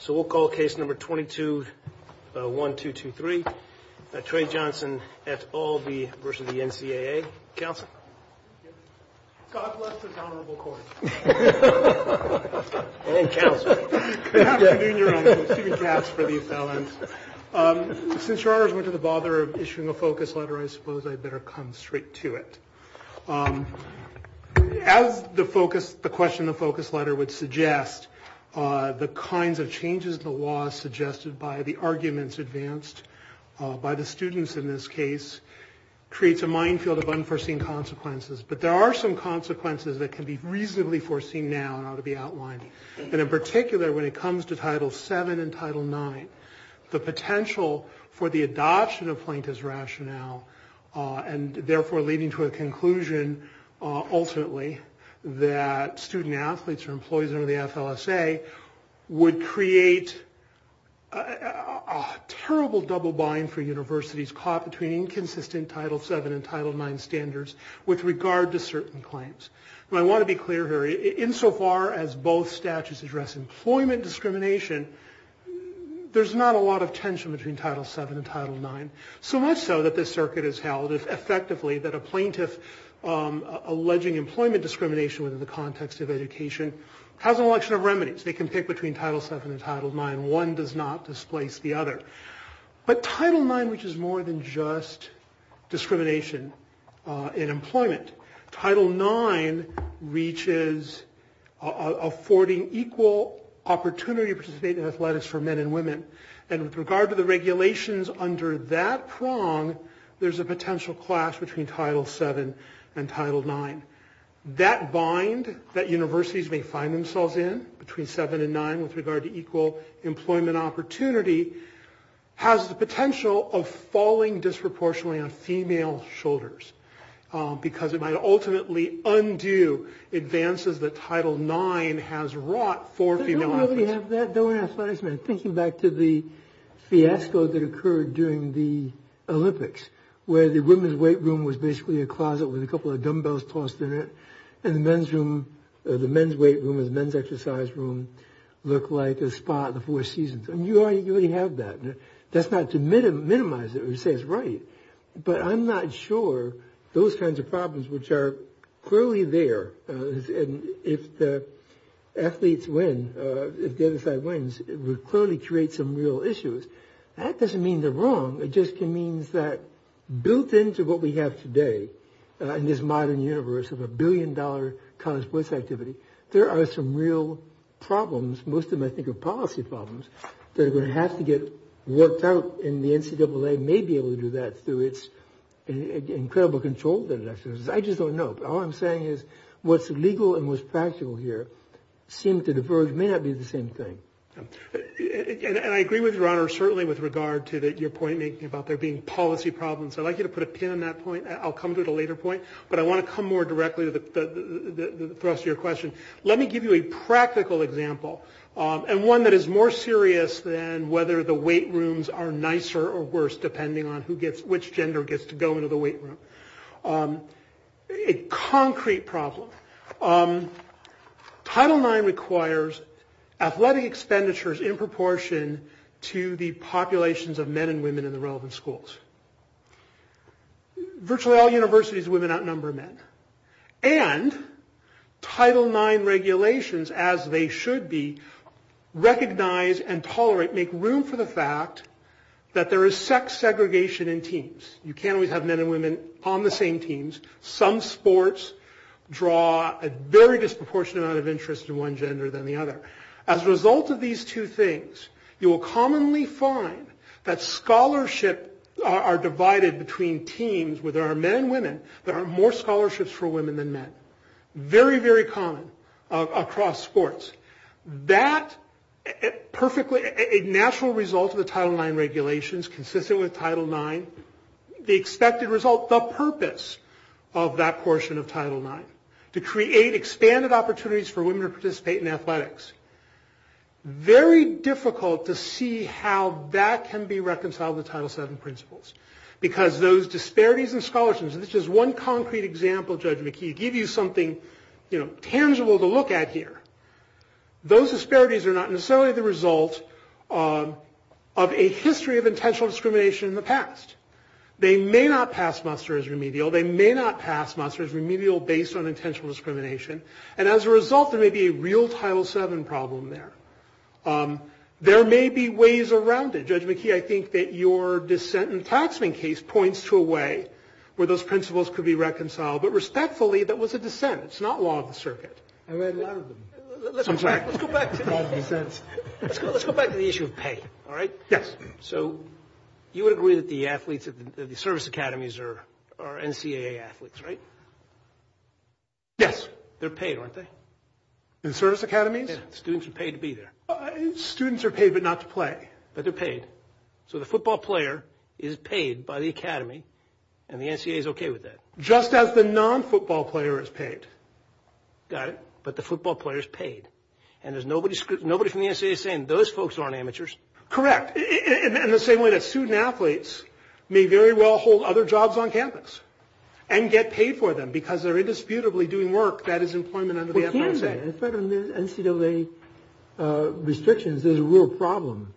So we'll call case number 22-1223, Trey Johnson v. Albee v. NCAA. Counsel? God bless the Honorable Court. And Counsel. Thank you. Thank you. Since your Honor's not going to bother issuing a focus letter, I suppose I'd better come straight to it. As the question of focus letter would suggest, the kinds of changes in the law suggested by the arguments advanced by the students in this case creates a minefield of unforeseen consequences. But there are some consequences that can be reasonably foreseen now and ought to be outlined. And in particular, when it comes to Title VII and Title IX, the potential for the adoption of Plaintiff's Rationale and therefore leading to a conclusion ultimately that student-athletes or employees under the FLSA would create a terrible double bind for universities caught between inconsistent Title VII and Title IX standards with regard to certain claims. I want to be clear here. Insofar as both statutes address employment discrimination, there's not a lot of tension between Title VII and Title IX. So much so that this circuit has held effectively that a plaintiff alleging employment discrimination within the context of education has an election of remedies. They can pick between Title VII and Title IX. One does not displace the other. But Title IX reaches more than just discrimination in employment. Title IX reaches affording equal opportunity to participate in athletics for men and women. And with regard to the regulations under that prong, there's a potential clash between Title VII and Title IX. That bind that universities may find themselves in between VII and IX with regard to equal employment opportunity has the potential of falling disproportionately on female shoulders because it might ultimately undo advances that Title IX has wrought for female athletes. Thinking back to the fiasco that occurred during the Olympics where the women's weight room was basically a closet with a couple of dumbbells tossed in it and the men's weight room and the men's exercise room looked like a spa in the Four Seasons. And you already have that. That's not to minimize it or say it's right. But I'm not sure those kinds of problems which are clearly there and if the athletes win, if the other side wins, it would clearly create some real issues. That doesn't mean they're wrong. It just means that built into what we have today in this modern universe of a billion-dollar college sports activity, there are some real problems, most of them I think are policy problems, that are going to have to get worked out. And the NCAA may be able to do that through its incredible control. I just don't know. All I'm saying is what's legal and what's practical here seem to diverge, may not be the same thing. And I agree with your honor certainly with regard to your point making about there being policy problems. I'd like you to put a pin on that point. I'll come to it at a later point. But I want to come more directly to the thrust of your question. Let me give you a practical example and one that is more serious than whether the weight rooms are nicer or worse depending on which gender gets to go into the weight room. A concrete problem. Title IX requires athletic expenditures in proportion to the populations of men and women in the relevant schools. Virtually all universities, women outnumber men. And Title IX regulations, as they should be, recognize and tolerate, make room for the fact that there is sex segregation in teams. You can't always have men and women on the same teams. Some sports draw a very disproportionate amount of interest in one gender than the other. As a result of these two things, you will commonly find that scholarships are divided between teams where there are men and women. There are more scholarships for women than men. Very, very common across sports. That is a natural result of the Title IX regulations consistent with Title IX. The expected result, the purpose of that portion of Title IX, to create expanded opportunities for women to participate in athletics. Very difficult to see how that can be reconciled with Title VII principles because those disparities in scholarships, and this is one concrete example, Judge McKee, to give you something tangible to look at here. Those disparities are not necessarily the result of a history of intentional discrimination in the past. They may not pass Monster as remedial. They may not pass Monster as remedial based on intentional discrimination. And as a result, there may be a real Title VII problem there. There may be ways around it. Judge McKee, I think that your dissent and attachment case points to a way where those principles could be reconciled. But respectfully, that was a dissent. It's not law of the circuit. I read a lot of them. I'm sorry. Let's go back to the issue of pay. All right? Yes. So you would agree that the athletes at the service academies are NCAA athletes, right? Yes. They're paid, aren't they? In service academies? Yes. Students are paid to be there. Students are paid but not to play. But they're paid. So the football player is paid by the academy and the NCAA is okay with that? Just as the non-football player is paid. All right. But the football player is paid. And there's nobody from the NCAA saying those folks aren't amateurs? Correct. In the same way that student athletes may very well hold other jobs on campus and get paid for them because they're indisputably doing work. That is employment under the NCAA. In fact, on the NCAA restrictions, there's a real problem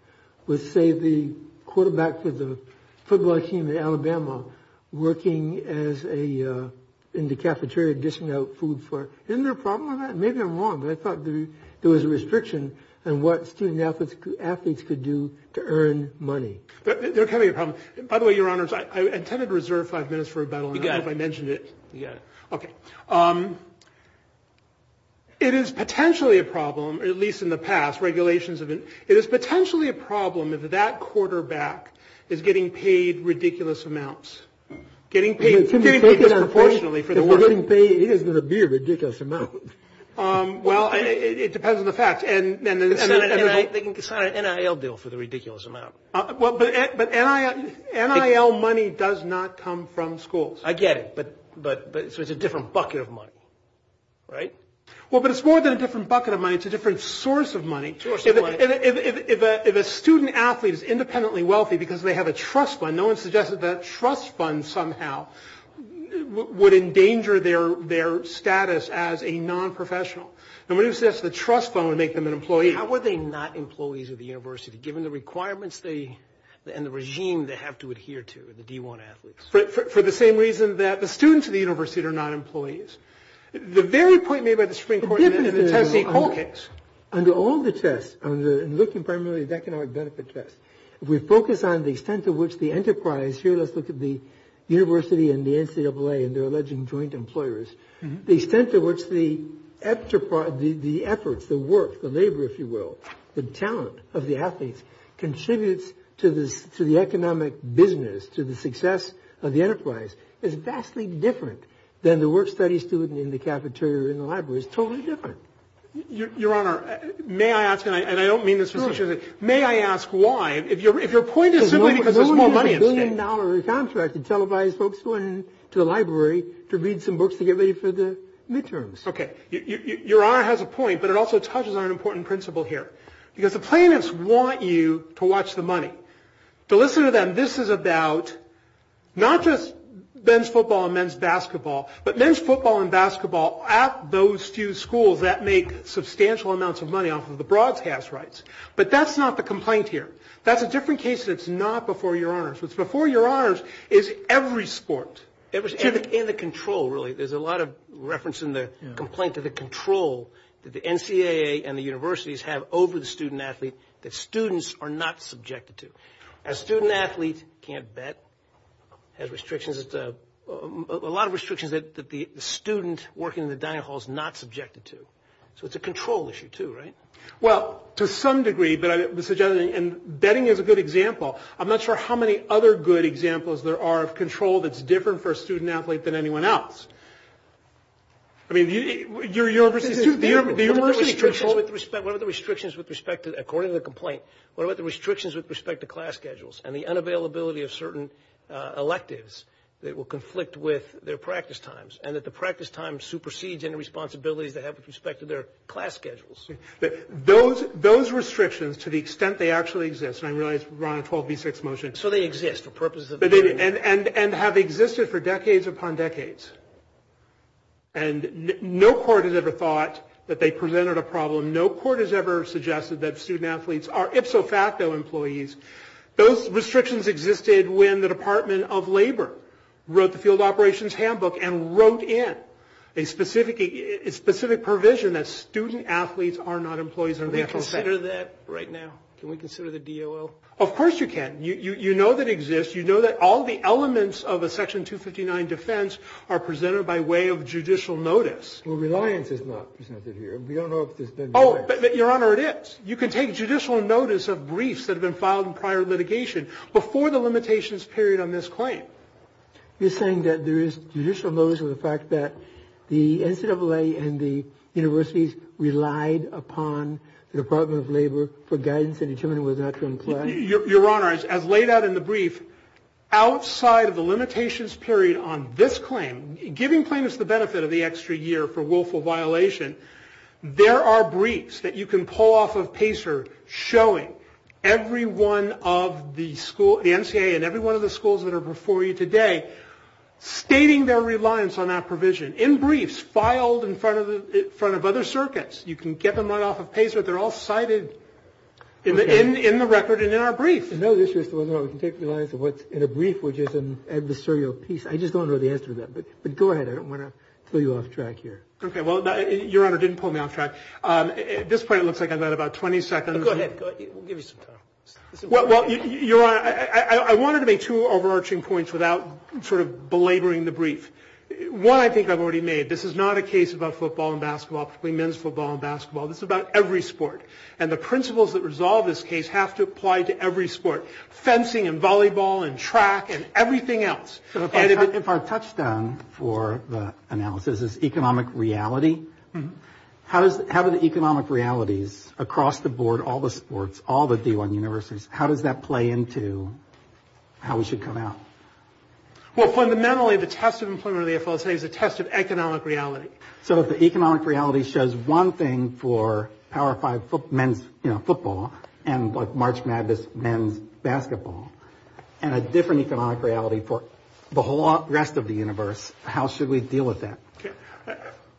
with, say, the quarterback for the football team in Alabama working in the cafeteria dishing out food. Isn't there a problem with that? Maybe I'm wrong, but I thought there was a restriction on what student athletes could do to earn money. By the way, Your Honors, I intended to reserve five minutes for a battle. I hope I mentioned it. You got it. Okay. Okay. It is potentially a problem, at least in the past, it is potentially a problem if that quarterback is getting paid ridiculous amounts. Getting paid disproportionately. We're getting paid ridiculous amounts. Well, it depends on the fact. They can sign an NIL bill for the ridiculous amount. But NIL money does not come from schools. I get it, but it's a different bucket of money. Right? Well, but it's more than a different bucket of money. It's a different source of money. If a student athlete is independently wealthy because they have a trust fund, no one suggests that that trust fund somehow would endanger their status as a nonprofessional. The trust fund would make them an employee. How are they not employees of the university given the requirements and the regime they have to adhere to, the D1 athletes? For the same reason that the students of the university are not employees. The very point made by the Supreme Court is that the trustee always gets. Under all the tests, looking primarily at the economic benefit test, if we focus on the extent to which the enterprise, here let's look at the university and the NCAA and their alleged joint employers, the extent to which the efforts, the work, the labor, if you will, the talent of the athletes, contributes to the economic business, to the success of the enterprise, is vastly different than the work-study student in the cafeteria in the library. It's totally different. Your Honor, may I ask, and I don't mean this in a foolish way, may I ask why? If your point is simply because there's more money in the state. No one has a billion-dollar contract that televised folks going to the library to read some books to get ready for the midterms. Okay. Your Honor has a point, but it also touches on an important principle here. Because the plaintiffs want you to watch the money. So listen to them. This is about not just men's football and men's basketball, but men's football and basketball at those two schools that make substantial amounts of money off of the broadcast rights. But that's not the complaint here. That's a different case. It's not before your honors. What's before your honors is every sport. Every sport. And the control, really. There's a lot of reference in the complaint to the control that the NCAA and the universities have over the student-athlete that students are not subjected to. A student-athlete can't bet, has restrictions. A lot of restrictions that the student working in the dining hall is not subjected to. So it's a control issue, too, right? Well, to some degree. And betting is a good example. I'm not sure how many other good examples there are of control that's different for a student-athlete than anyone else. I mean, do you understand? According to the complaint, what about the restrictions with respect to class schedules and the unavailability of certain electives that will conflict with their practice times and that the practice time supersedes any responsibility they have with respect to their class schedules? Those restrictions, to the extent they actually exist, and I realize we're on a 12B6 motion. So they exist. And have existed for decades upon decades. And no court has ever thought that they presented a problem. No court has ever suggested that student-athletes are ipso facto employees. Those restrictions existed when the Department of Labor wrote the field operations handbook and wrote in a specific provision that student-athletes are not employees in a natural sector. Can we consider that right now? Can we consider the DOO? Of course you can. You know that exists. You know that all the elements of a Section 259 defense are presented by way of judicial notice. Well, reliance is not presented here. We don't know if it's been done. Oh, but, Your Honor, it is. You can take judicial notice of briefs that have been filed in prior litigation before the limitations period on this claim. You're saying that there is judicial notice of the fact that the NCAA and the universities relied upon the Department of Labor for guidance in determining whether or not to employ them? Your Honor, as laid out in the brief, outside of the limitations period on this claim, giving claimants the benefit of the extra year for willful violation, there are briefs that you can pull off of PACER showing every one of the NCAA and every one of the schools that are before you today stating their reliance on that provision. In briefs filed in front of other circuits, you can get them right off of PACER. They're all cited in the record and in our brief. I know this is going on. We can take reliance on what's in a brief, which is an adversarial piece. I just don't know the answer to that. But go ahead. I don't want to pull you off track here. Okay. Well, Your Honor, didn't pull me off track. At this point, it looks like I've got about 20 seconds. Go ahead. We'll give you some time. Well, Your Honor, I wanted to make two overarching points without sort of belaboring the brief. One, I think I've already made. This is not a case about football and basketball, particularly men's football and basketball. This is about every sport. And the principles that resolve this case have to apply to every sport, fencing and volleyball and track and everything else. If our touchstone for the analysis is economic reality, how do the economic realities across the board, all the sports, all the D1 universities, how does that play into how we should come out? Well, fundamentally, the test of employment, I'll tell you, is a test of economic reality. So if the economic reality shows one thing for Power Five men's football and March Madness men's basketball and a different economic reality for the whole rest of the universe, how should we deal with that?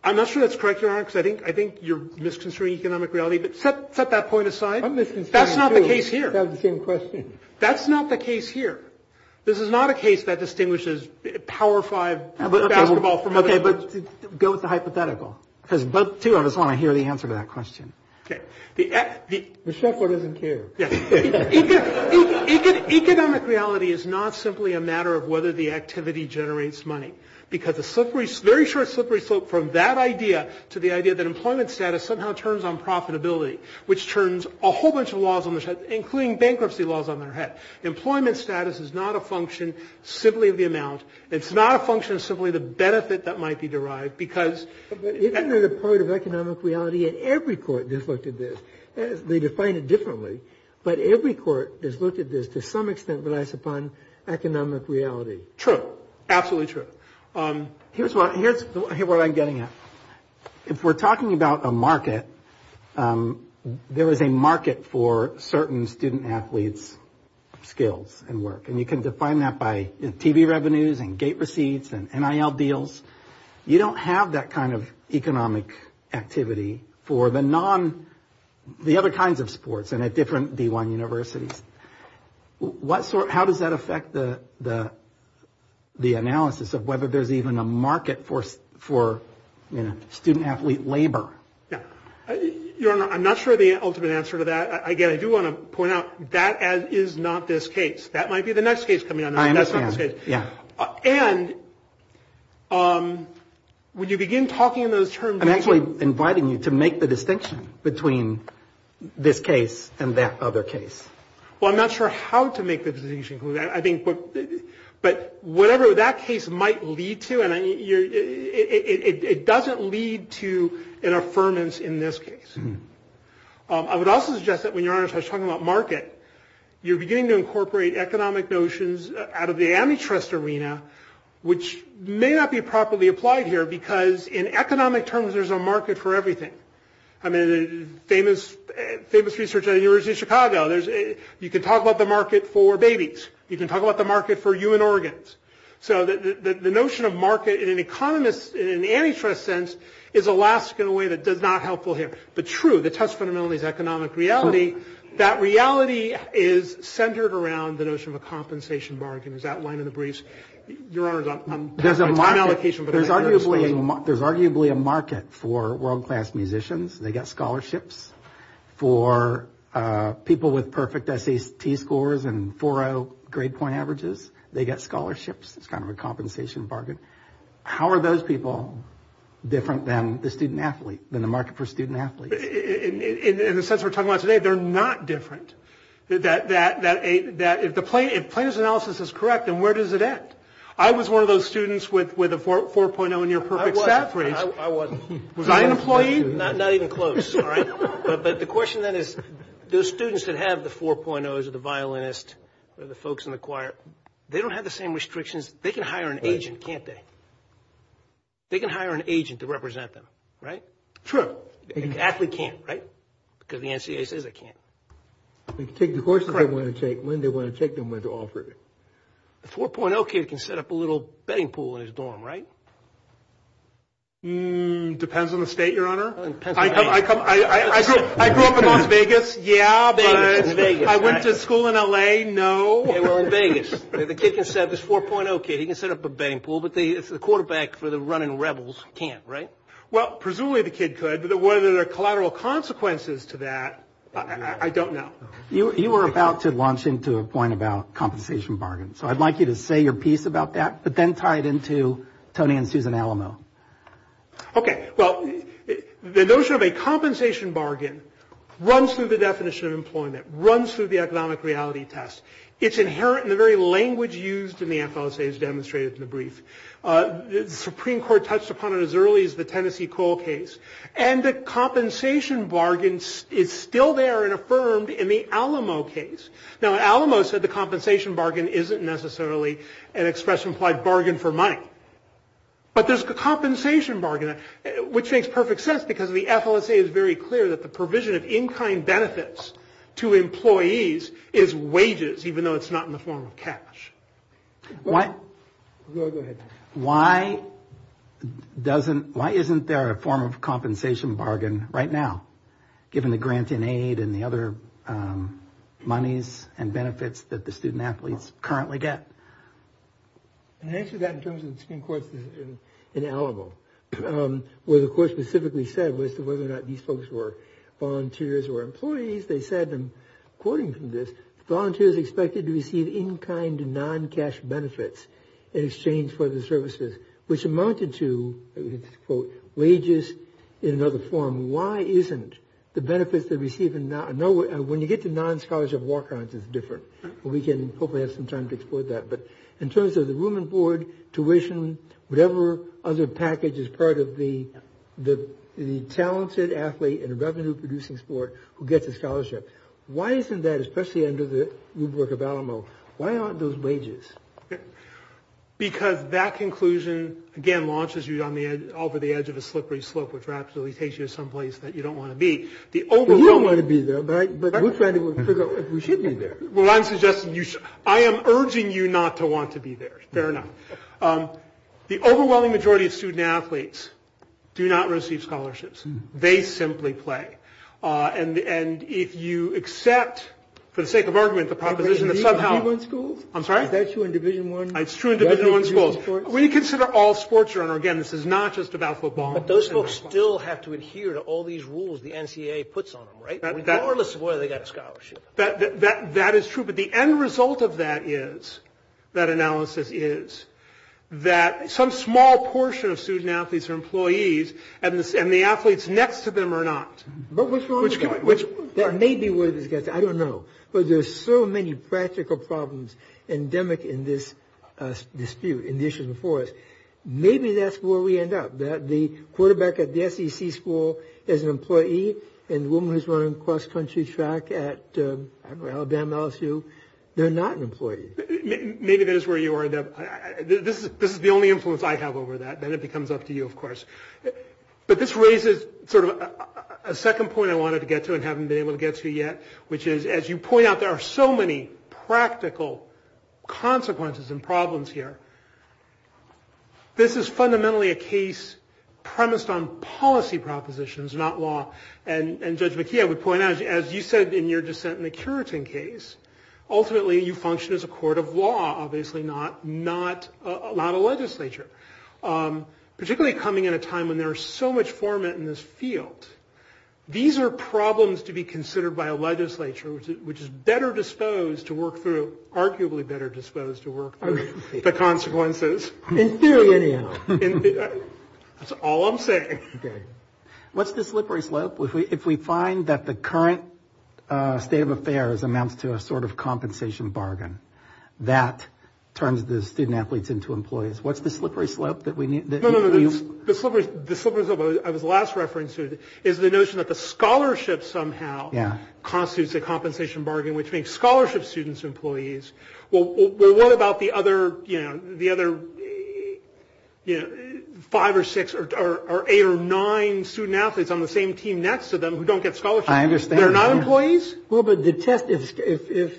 I'm not sure that's correct, Your Honor, because I think you're misconstruing economic reality. But set that point aside. That's not the case here. I'm misconstruing it too. I have the same question. That's not the case here. This is not a case that distinguishes Power Five basketball from other sports. Okay, but go with the hypothetical, because both two of us want to hear the answer to that question. Okay. The chef doesn't care. Economic reality is not simply a matter of whether the activity generates money, because a very short, slippery slope from that idea to the idea that employment status somehow turns on profitability, which turns a whole bunch of laws on their head, including bankruptcy laws on their head. Employment status is not a function simply of the amount. It's not a function simply of the benefit that might be derived, because... But isn't it a part of economic reality? And every court has looked at this. They define it differently. But every court has looked at this to some extent relies upon economic reality. True. Absolutely true. Here's what I'm getting at. If we're talking about a market, there is a market for certain student athletes' skills and work, and you can define that by TV revenues and gate receipts and NIL deals. You don't have that kind of economic activity for the other kinds of sports and at different D1 universities. How does that affect the analysis of whether there's even a market for student athlete labor? Yeah. Your Honor, I'm not sure the ultimate answer to that. Again, I do want to point out that is not this case. That might be the next case coming up. I understand, yeah. And when you begin talking in those terms... I'm actually inviting you to make the distinction between this case and that other case. Well, I'm not sure how to make the decision. But whatever that case might lead to, it doesn't lead to an affirmance in this case. I would also suggest that when you're talking about market, you're beginning to incorporate economic notions out of the amitrust arena, which may not be properly applied here because in economic terms, there's a market for everything. I mean, the famous research at the University of Chicago, you can talk about the market for babies. You can talk about the market for you and organs. So the notion of market in an economist, in an amitrust sense, is Alaska in a way that's not helpful here. But true, the testimony is economic reality. That reality is centered around the notion of a compensation margin, as outlined in the briefs. There's arguably a market for world-class musicians. They get scholarships. For people with perfect SAP scores and 4.0 grade point averages, they get scholarships. It's kind of a compensation bargain. How are those people different than the student-athlete, than the market for student-athletes? In the sense we're talking about today, they're not different. If the plaintiff's analysis is correct, then where does it end? I was one of those students with a 4.0 and your perfect SAP grades. I wasn't. Was I an employee? Not even close. But the question then is, those students that have the 4.0s, the violinist, or the folks in the choir, they don't have the same restrictions. They can hire an agent, can't they? They can hire an agent to represent them, right? Sure. An athlete can't, right? Because the NCAA says they can't. They can take the courses they want to take, when they want to take them, when they're offered. A 4.0 kid can set up a little betting pool in his dorm, right? Depends on the state, Your Honor. I grew up in Las Vegas, yeah, but I went to school in L.A., no. In Vegas. The kid can set up this 4.0 kid. He can set up a betting pool, but the quarterback for the running Rebels can't, right? Well, presumably the kid could, but whether there are collateral consequences to that, I don't know. You were about to launch into a point about compensation bargains, so I'd like you to say your piece about that, but then tie it into Tony and Susan Alamo. Okay. Well, the notion of a compensation bargain runs through the definition of employment, runs through the economic reality test. It's inherent in the very language used in the NFL, as demonstrated in the brief. The Supreme Court touched upon it as early as the Tennessee Cole case, and the compensation bargain is still there and affirmed in the Alamo case. Now, Alamo said the compensation bargain isn't necessarily an expression applied bargain for money, but there's a compensation bargain, which makes perfect sense, because the FLSA is very clear that the provision of in-kind benefits to employees is wages, even though it's not in the form of cash. Go ahead. Why isn't there a form of compensation bargain right now, given the grants in aid and the other monies and benefits that the student-athletes currently get? The answer to that in terms of the Supreme Court is in Alamo, where the court specifically said as to whether or not these folks were volunteers or employees. They said, according to this, volunteers expected to receive in-kind and non-cash benefits in exchange for the services, which amounted to, quote, wages in another form. Why isn't the benefits they receive in – when you get to non-scholarship work grants, it's different. We can hopefully have some time to explore that. But in terms of the room and board, tuition, whatever other package is part of the talented athlete in a revenue-producing sport who gets a scholarship, why isn't that, especially under the rubric of Alamo, why aren't those wages? Because that conclusion, again, launches you over the edge of a slippery slope, which perhaps takes you to someplace that you don't want to be. You don't want to be there, but we're trying to figure out if we should be there. Well, I'm suggesting you should – I am urging you not to want to be there. Fair enough. The overwhelming majority of student-athletes do not receive scholarships. They simply play. And if you accept, for the sake of argument, the proposition that somehow – But isn't that true in Division I schools? I'm sorry? That's true in Division I – It's true in Division I schools. We consider all sports are – and, again, this is not just about football. But those folks still have to adhere to all these rules the NCAA puts on them, right? Regardless of whether they get a scholarship. That is true. But the end result of that is – that analysis is that some small portion of student-athletes are employees, and the athletes next to them are not. But what's wrong with that? That may be what it is. I don't know. But there's so many practical problems endemic in this dispute in Division IV. Maybe that's where we end up, that the quarterback at the SEC school is an employee, and the woman who's running cross-country track at Alabama LSU, they're not employees. Maybe that is where you end up. This is the only influence I have over that. Then it becomes up to you, of course. But this raises sort of a second point I wanted to get to and haven't been able to get to yet, which is, as you point out, there are so many practical consequences and problems here. This is fundamentally a case premised on policy propositions, not law. And Judge McKee, I would point out, as you said in your dissent in the Curitin case, ultimately you function as a court of law, obviously not a law legislature, particularly coming at a time when there is so much formant in this field. These are problems to be considered by a legislature, which is better disposed to work through, arguably better disposed to work through the consequences. In theory, it is. That's all I'm saying. What's the slippery slope? If we find that the current state of affairs amounts to a sort of compensation bargain, that turns the student-athletes into employees. What's the slippery slope that we need? No, no, no. The slippery slope I was last referencing is the notion that the scholarship somehow constitutes a compensation bargain, which means scholarship students, employees. Well, what about the other five or six or eight or nine student-athletes on the same team next to them who don't get scholarships? I understand. They're not employees? Well, but the test, if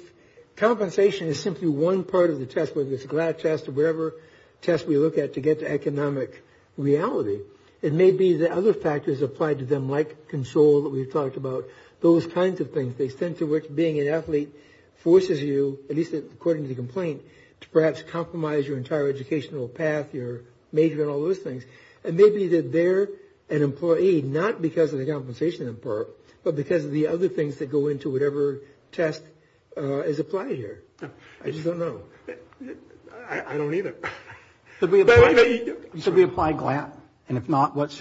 compensation is simply one part of the test, whether it's a glad test or whatever test we look at to get to economic reality, it may be that other factors apply to them, like control that we've talked about, those kinds of things. The extent to which being an athlete forces you, at least according to the complaint, to perhaps compromise your entire educational path, your major, and all those things. It may be that they're an employee not because of the compensation in part, but because of the other things that go into whatever test is applied here. I just don't know. I don't either. Should we apply GLAD? And if not, what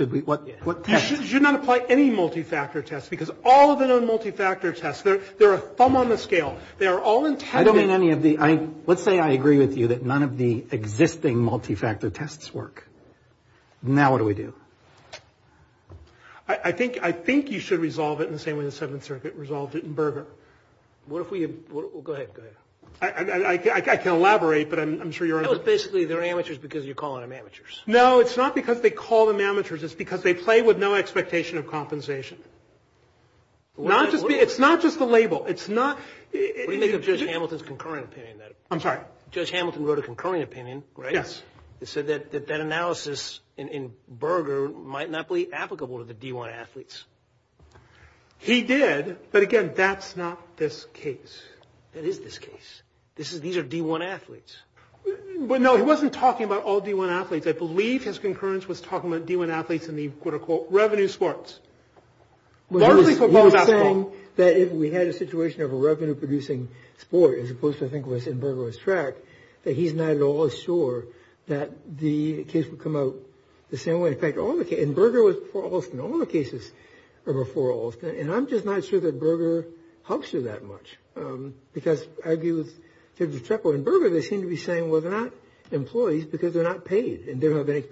test? You should not apply any multi-factor test, because all of them are multi-factor tests. They're a thumb on the scale. They're all intended. Let's say I agree with you that none of the existing multi-factor tests work. Now what do we do? I think you should resolve it in the same way the Seventh Circuit resolved it in Berger. What if we—go ahead. I can elaborate, but I'm sure you're— Basically, they're amateurs because you call them amateurs. No, it's not because they call them amateurs. It's because they play with no expectation of compensation. It's not just the label. It's not— What do you make of Judge Hamilton's concurring opinion? I'm sorry? Judge Hamilton wrote a concurring opinion, right? Yes. He said that that analysis in Berger might not be applicable to the D1 athletes. He did, but again, that's not this case. That is this case. These are D1 athletes. No, he wasn't talking about all D1 athletes. I believe his concurrence was talking about D1 athletes in the, quote-unquote, revenue sports. That's what he was saying. He was saying that if we had a situation of a revenue-producing sport, as opposed to, I think, what's in Berger's track, that he's not at all sure that the case would come out the same way. In fact, Berger was before Alston. All the cases are before Alston. And I'm just not sure that Berger helps you that much because I agree with Judge Chappell. So, in Berger, they seem to be saying, well, they're not employees because they're not paid. And they don't have any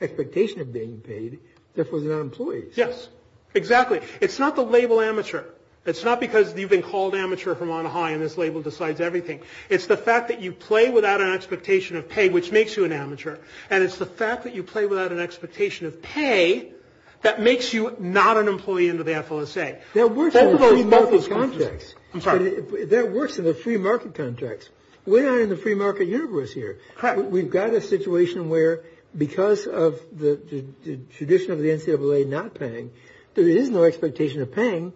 expectation of being paid. Therefore, they're not employees. Yes. Exactly. It's not the label amateur. It's not because you've been called amateur from on high and this label decides everything. It's the fact that you play without an expectation of pay, which makes you an amateur. And it's the fact that you play without an expectation of pay that makes you not an employee in the FLSA. That works in the free market context. I'm sorry. That works in the free market context. We're not in the free market universe here. We've got a situation where, because of the tradition of the NCAA not paying, there is no expectation of paying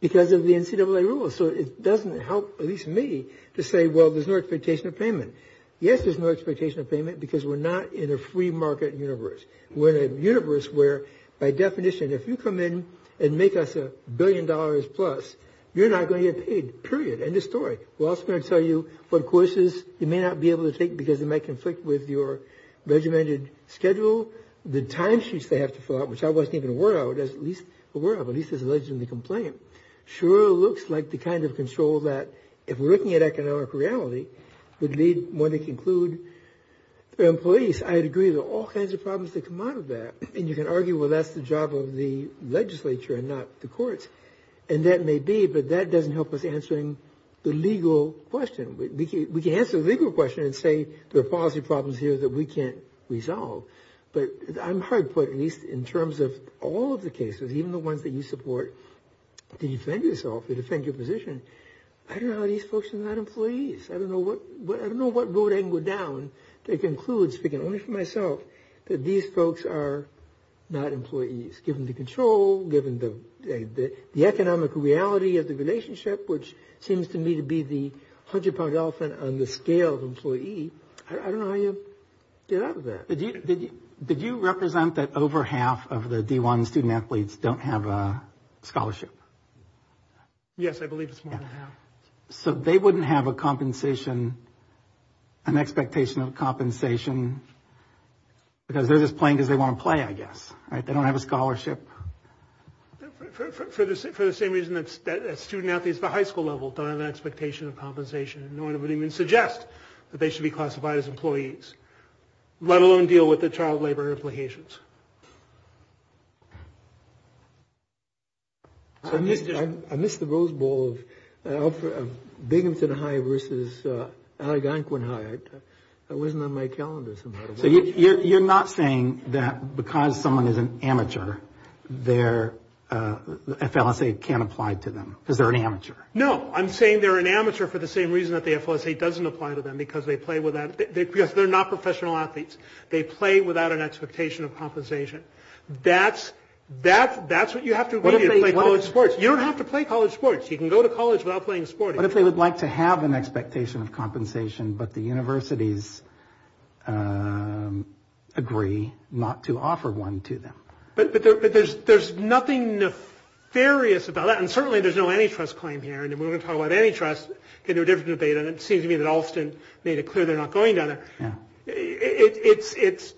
because of the NCAA rules. So it doesn't help, at least to me, to say, well, there's no expectation of payment. Yes, there's no expectation of payment because we're not in a free market universe. We're in a universe where, by definition, if you come in and make us a billion dollars plus, you're not going to get paid. Period. End of story. We're also going to tell you what courses you may not be able to take because it might conflict with your regimented schedule, the timesheets they have to fill out, which I wasn't even aware of, or at least wasn't going to complain. It sure looks like the kind of control that, if we're looking at economic reality, would lead one to conclude that employees, I agree, there are all kinds of problems that come out of that. And you can argue, well, that's the job of the legislature and not the courts. And that may be, but that doesn't help with answering the legal question. We can answer the legal question and say there are policy problems here that we can't resolve. But I'm hard put, at least in terms of all of the cases, even the ones that you support, to defend yourself, to defend your position. I don't know how these folks are not employees. I don't know what road I can go down to conclude, speaking only for myself, that these folks are not employees, given the control, given the economic reality of the relationship, which seems to me to be the hundred pound elephant on the scale of employee. I don't know how you get out of that. Did you represent that over half of the D1 student athletes don't have a scholarship? Yes, I believe it's more than half. So they wouldn't have a compensation, an expectation of compensation, because they're just playing because they want to play, I guess. They don't have a scholarship. For the same reason that student athletes at the high school level don't have an expectation of compensation. No one would even suggest that they should be classified as employees, let alone deal with the child labor implications. I missed the Rose Bowl, Binghamton High versus Alleganquin High. It wasn't on my calendar. So you're not saying that because someone is an amateur, their FLSA can't apply to them because they're an amateur? No, I'm saying they're an amateur for the same reason that the FLSA doesn't apply to them, because they're not professional athletes. They play without an expectation of compensation. That's what you have to do to play college sports. You don't have to play college sports. You can go to college without playing sports. What if they would like to have an expectation of compensation, but the universities agree not to offer one to them? But there's nothing nefarious about that, and certainly there's no antitrust claim here, and we're going to talk about antitrust in a different debate, and it seems to me that Alston made it clear they're not going down it. It's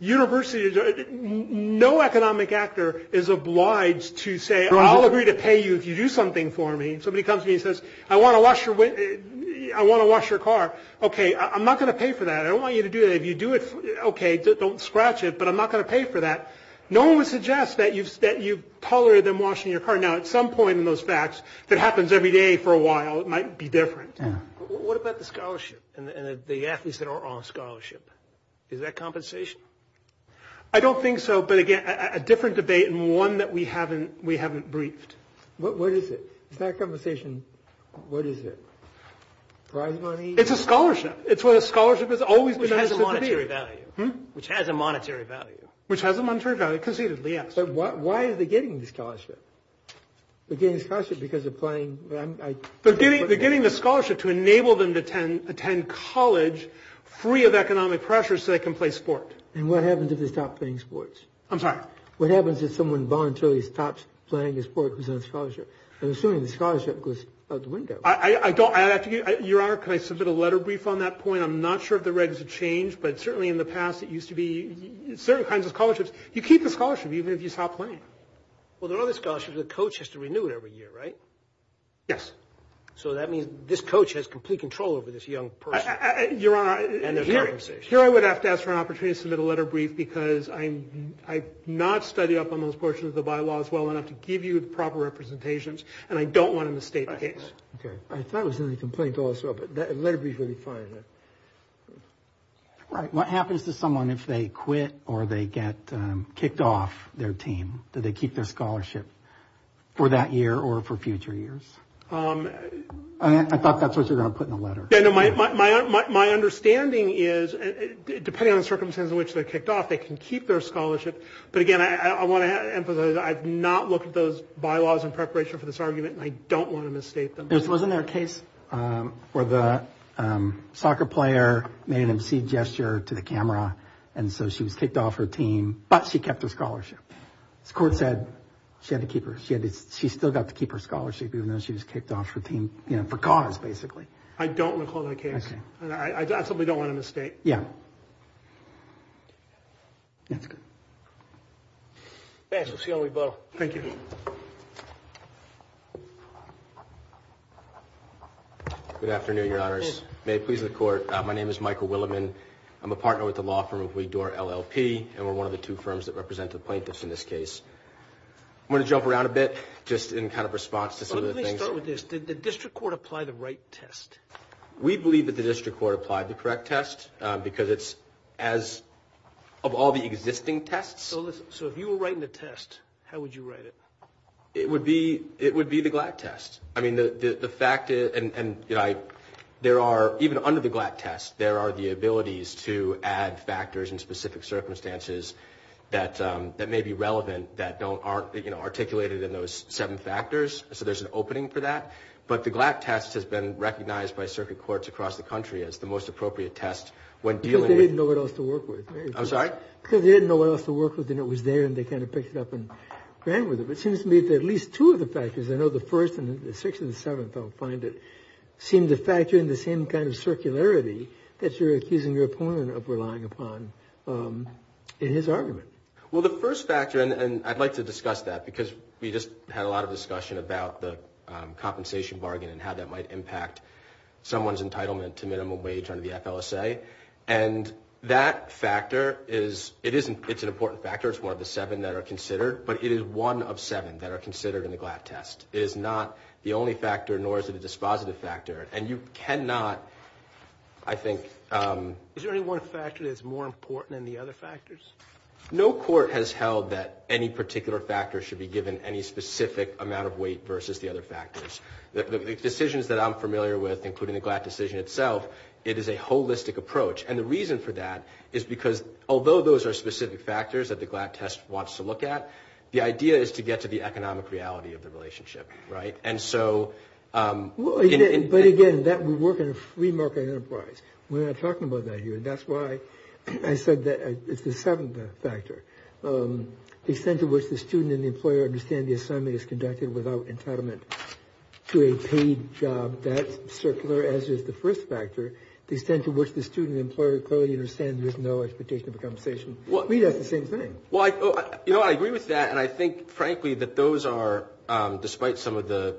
universities. No economic actor is obliged to say, I'll agree to pay you if you do something for me. Somebody comes to me and says, I want to wash your car. Okay, I'm not going to pay for that. I don't want you to do that. If you do it, okay, don't scratch it, but I'm not going to pay for that. No one would suggest that you've tolerated them washing your car. Now, at some point in those facts, if it happens every day for a while, it might be different. What about the scholarship and the athletes that aren't on scholarship? Is that compensation? I don't think so, but again, a different debate and one that we haven't briefed. What is it? Is that compensation? What is it? Prize money? It's a scholarship. It's what a scholarship is. Which has a monetary value. Which has a monetary value. Why are they getting the scholarship? They're getting the scholarship because they're playing. They're getting the scholarship to enable them to attend college free of economic pressures so they can play sports. And what happens if they stop playing sports? I'm sorry? What happens if someone voluntarily stops playing a sport because they're on scholarship? I'm assuming the scholarship goes out the window. Your Honor, can I submit a letter brief on that point? I'm not sure if the regs have changed, but certainly in the past it used to be certain kinds of scholarships. You keep the scholarship even if you stop playing. Well, there are other scholarships. The coach has to renew it every year, right? Yes. So that means this coach has complete control over this young person. Your Honor, here I would have to ask for an opportunity to submit a letter brief because I've not studied up on those portions of the bylaws well enough to give you the proper representations, and I don't want them to state the case. Okay. I thought it was going to be a complaint also, but a letter brief would be fine. Right. What happens to someone if they quit or they get kicked off their team? Do they keep their scholarship for that year or for future years? I thought that's what you were going to put in the letter. My understanding is, depending on the circumstances in which they're kicked off, they can keep their scholarship. But, again, I want to emphasize I have not looked at those bylaws in preparation for this argument, and I don't want to misstate them. Wasn't there a case where the soccer player made an obscene gesture to the camera, and so she was kicked off her team, but she kept her scholarship? The court said she still got to keep her scholarship even though she was kicked off her team for cause, basically. I don't want to call that a case. Okay. I simply don't want to misstate. Yeah. Thanks. We'll see how we go. Thank you. Good afternoon, Your Honors. May it please the Court, my name is Michael Willeman. I'm a partner with the law firm of Weed Door LLP, and we're one of the two firms that represent the plaintiffs in this case. I'm going to jump around a bit just in kind of response to some of the things. Let me start with this. Did the district court apply the right test? We believe that the district court applied the correct test because it's as of all the existing tests. So, if you were writing the test, how would you write it? It would be the GLAD test. I mean, the fact that there are, even under the GLAD test, there are the abilities to add factors in specific circumstances that may be relevant that aren't articulated in those seven factors. So, there's an opening for that. But the GLAD test has been recognized by circuit courts across the country as the most appropriate test. Because they didn't know what else to work with. I'm sorry? Because they didn't know what else to work with, and it was there, and they kind of picked it up and ran with it. It seems to me that at least two of the factors, I know the first and the sixth and the seventh, I'll find it, seem to factor in the same kind of circularity that you're accusing your opponent of relying upon in his argument. Well, the first factor, and I'd like to discuss that because we just had a lot of discussion about the compensation bargain and how that might impact someone's entitlement to minimum wage under the FLSA. And that factor, it's an important factor. It's one of the seven that are considered. But it is one of seven that are considered in the GLAD test. It is not the only factor, nor is it a dispositive factor. And you cannot, I think… Is there any one factor that's more important than the other factors? No court has held that any particular factor should be given any specific amount of weight versus the other factors. The decisions that I'm familiar with, including the GLAD decision itself, it is a holistic approach. And the reason for that is because although those are specific factors that the GLAD test wants to look at, the idea is to get to the economic reality of the relationship, right? And so… But again, that would work in a free market enterprise. We're not talking about that here. And that's why I said that it's the seventh factor. The extent to which the student and the employer understand the assignment is conducted without entitlement to a paid job, that circular, as is the first factor. The extent to which the student and the employer clearly understand there's no expectation of compensation. To me, that's the same thing. Well, I agree with that. And I think, frankly, that those are, despite some of the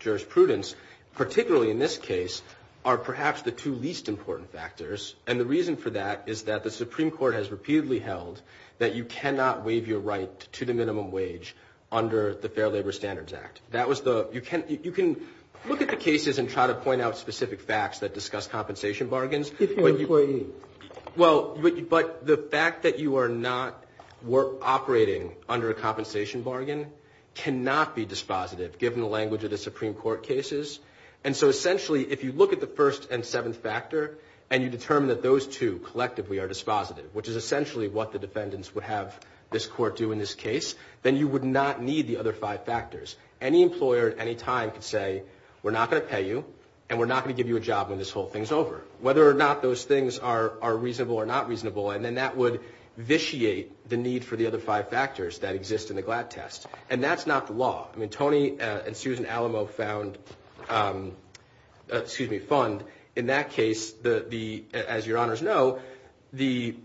jurisprudence, particularly in this case, are perhaps the two least important factors. And the reason for that is that the Supreme Court has repeatedly held that you cannot waive your right to the minimum wage under the Fair Labor Standards Act. You can look at the cases and try to point out specific facts that discuss compensation bargains. Well, but the fact that you are not operating under a compensation bargain cannot be dispositive, given the language of the Supreme Court cases. And so, essentially, if you look at the first and seventh factor, and you determine that those two collectively are dispositive, which is essentially what the defendants would have this court do in this case, then you would not need the other five factors. Any employer at any time could say, we're not going to pay you, and we're not going to give you a job when this whole thing's over. Whether or not those things are reasonable or not reasonable, and then that would vitiate the need for the other five factors that exist in the GLAD test. And that's not the law. I mean, Tony and Susan Alamo found, excuse me, fund. In that case, as your honors know, the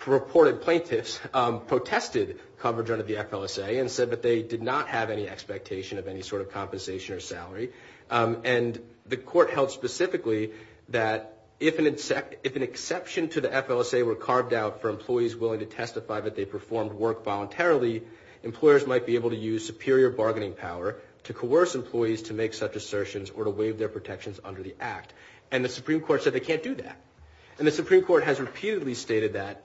purported plaintiffs protested coverage under the FLSA and said that they did not have any expectation of any sort of compensation or salary. And the court held specifically that if an exception to the FLSA were carved out for employees willing to testify that they performed work voluntarily, employers might be able to use superior bargaining power to coerce employees to make such assertions or to waive their protections under the act. And the Supreme Court said they can't do that. And the Supreme Court has repeatedly stated that,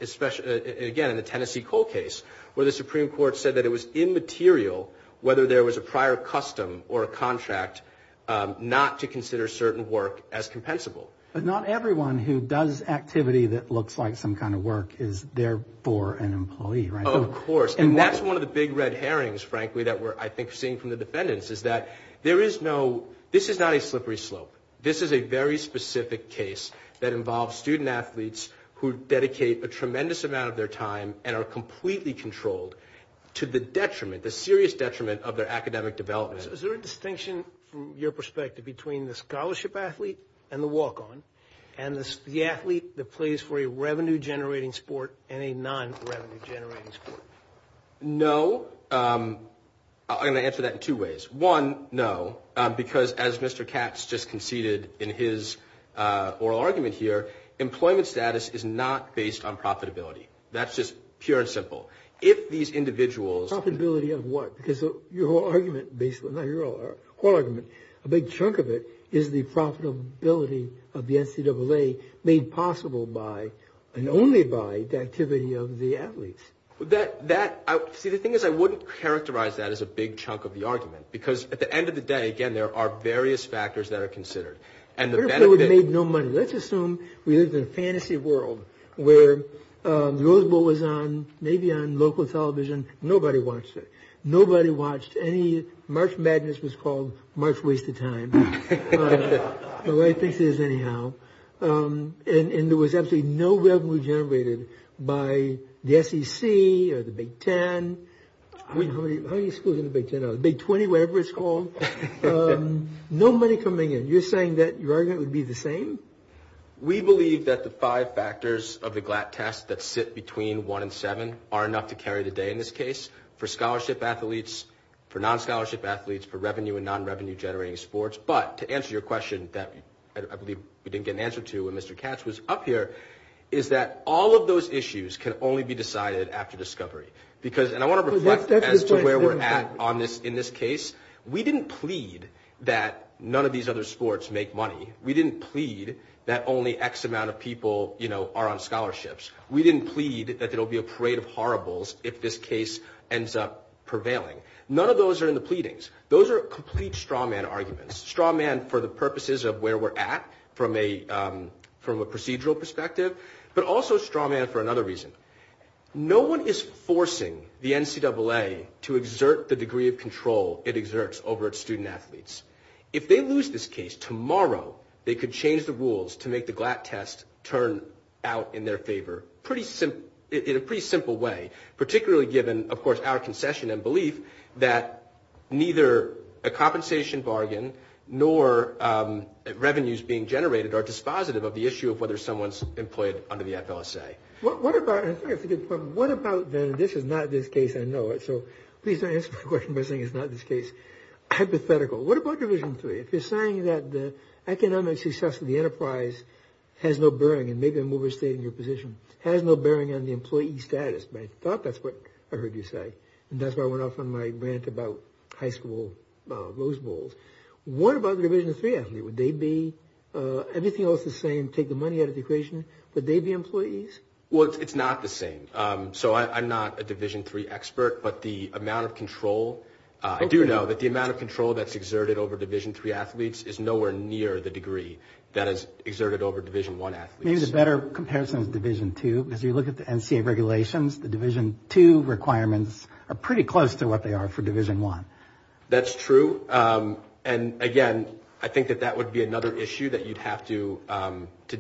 again, in the Tennessee Cole case, where the Supreme Court said that it was immaterial, whether there was a prior custom or a contract, not to consider certain work as compensable. But not everyone who does activity that looks like some kind of work is, therefore, an employee, right? Of course. And that's one of the big red herrings, frankly, that we're, I think, seeing from the defendants, is that there is no – this is not a slippery slope. This is a very specific case that involves student athletes who dedicate a tremendous amount of their time and are completely controlled to the detriment, the serious detriment, of their academic development. Is there a distinction, from your perspective, between the scholarship athlete and the walk-on and the athlete that plays for a revenue-generating sport and a non-revenue-generating sport? No. I'm going to answer that in two ways. One, no, because as Mr. Katz just conceded in his oral argument here, employment status is not based on profitability. That's just pure and simple. If these individuals – Profitability of what? Because your whole argument – not your whole argument – a big chunk of it is the profitability of the NCAA made possible by, and only by, the activity of the athletes. That – see, the thing is, I wouldn't characterize that as a big chunk of the argument, because at the end of the day, again, there are various factors that are considered. And the benefit – What if they made no money? Let's assume we live in a fantasy world where Roosevelt was on – maybe on local television. Nobody watched it. Nobody watched any – March Madness was called March Waste of Time. Or I think it is anyhow. And there was absolutely no revenue generated by the SEC or the Big Ten. How many schools in the Big Ten are there? Big 20, whatever it's called. No money coming in. You're saying that your argument would be the same? We believe that the five factors of the GLAT test that sit between one and seven are enough to carry the day in this case for scholarship athletes, for non-scholarship athletes, for revenue and non-revenue generating sports. But to answer your question that I believe we didn't get an answer to when Mr. Katz was up here, is that all of those issues can only be decided after discovery. Because – and I want to reflect as to where we're at on this – in this case. We didn't plead that none of these other sports make money. We didn't plead that only X amount of people are on scholarships. We didn't plead that there will be a parade of horribles if this case ends up prevailing. None of those are in the pleadings. Those are complete straw man arguments. Straw man for the purposes of where we're at from a procedural perspective, but also straw man for another reason. No one is forcing the NCAA to exert the degree of control it exerts over its student athletes. If they lose this case tomorrow, they could change the rules to make the GLAT test turn out in their favor in a pretty simple way, particularly given, of course, our concession and belief that neither a compensation bargain nor revenues being generated are dispositive of the issue of whether someone's employed under the FLSA. What about – I think I forget the question. What about – this is not this case, I know it, so please don't answer the question by saying it's not this case. Hypothetical. What about Division III? If you're saying that the economic success of the enterprise has no bearing – and maybe I'm overstating your position – has no bearing on the employee status. I thought that's what I heard you say. And that's why I went off on my rant about high school Rose Bowls. What about the Division III athlete? Would they be – everything else is saying take the money out of the equation. Would they be employees? Well, it's not the same. So I'm not a Division III expert, but the amount of control – I do know that the amount of control that's exerted over Division III athletes is nowhere near the degree that is exerted over Division I athletes. Here's a better comparison of Division II. As you look at the MCA regulations, the Division II requirements are pretty close to what they are for Division I. That's true. And, again, I think that that would be another issue that you'd have to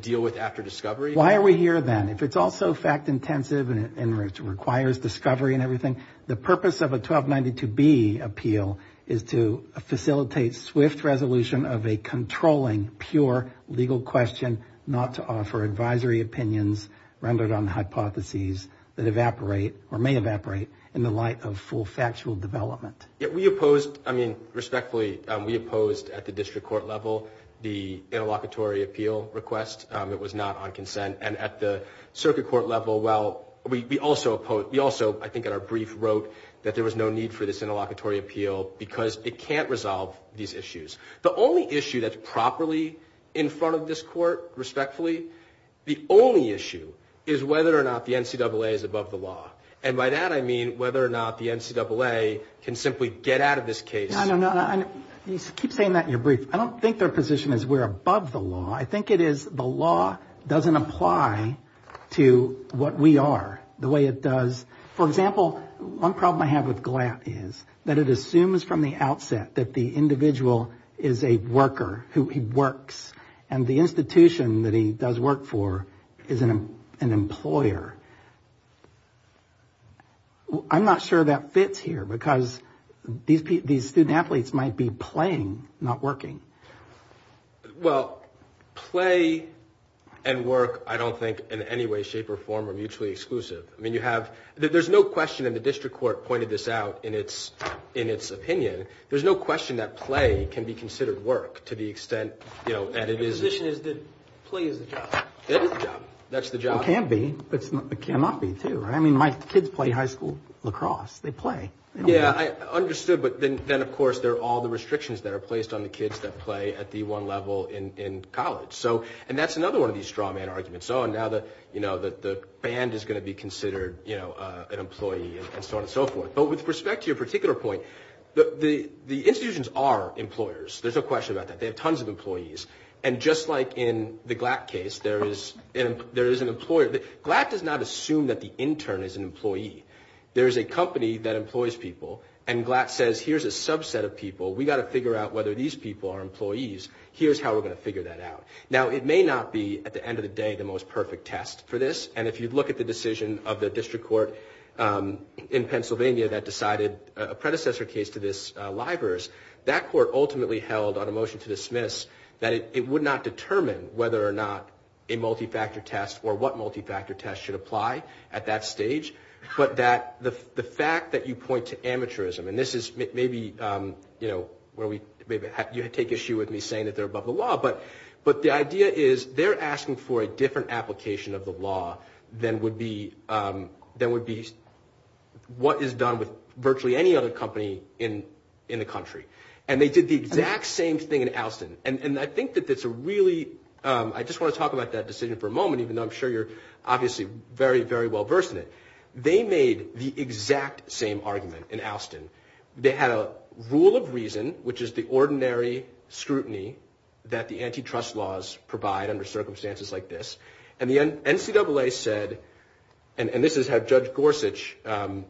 deal with after discovery. Why are we here then? If it's also fact-intensive and requires discovery and everything, the purpose of a 1292B appeal is to facilitate swift resolution of a controlling, pure, legal question not to offer advisory opinions rendered on hypotheses that evaporate or may evaporate in the light of full factual development. Yeah, we opposed – I mean, respectfully, we opposed at the district court level the interlocutory appeal request. It was not on consent. And at the circuit court level, well, we also opposed – we also, I think, in our brief wrote that there was no need for this interlocutory appeal because it can't resolve these issues. The only issue that's properly in front of this court, respectfully, the only issue is whether or not the NCAA is above the law. And by that I mean whether or not the NCAA can simply get out of this case. No, no, no. You keep saying that in your brief. I don't think their position is we're above the law. I think it is the law doesn't apply to what we are the way it does. For example, one problem I have with GLAT is that it assumes from the outset that the individual is a worker who works, and the institution that he does work for is an employer. I'm not sure that fits here because these student athletes might be playing, not working. Well, play and work I don't think in any way, shape, or form are mutually exclusive. I mean, you have – there's no question, and the district court pointed this out in its opinion, there's no question that play can be considered work to the extent – The position is that play is the job. It is the job. That's the job. It can be. It cannot be, too. I mean, my kids play high school lacrosse. They play. Yeah, I understood. But then, of course, there are all the restrictions that are placed on the kids that play at the one level in college. And that's another one of these straw man arguments. So now the band is going to be considered an employee and so on and so forth. But with respect to your particular point, the institutions are employers. There's no question about that. They have tons of employees. And just like in the Glatt case, there is an employer. Glatt does not assume that the intern is an employee. There is a company that employs people, and Glatt says, here's a subset of people. We've got to figure out whether these people are employees. Here's how we're going to figure that out. Now, it may not be, at the end of the day, the most perfect test for this, and if you look at the decision of the district court in Pennsylvania that decided a predecessor case to this LIBORS, that court ultimately held on a motion to dismiss that it would not determine whether or not a multi-factor test or what multi-factor test should apply at that stage. But the fact that you point to amateurism, and this is maybe where you take issue with me saying that they're above the law, but the idea is they're asking for a different application of the law than would be what is done with virtually any other company in the country. And they did the exact same thing in Alston. And I think that that's a really – I just want to talk about that decision for a moment, even though I'm sure you're obviously very, very well versed in it. They made the exact same argument in Alston. They had a rule of reason, which is the ordinary scrutiny that the antitrust laws provide under circumstances like this. And the NCAA said – and this is how Judge Gorsuch framed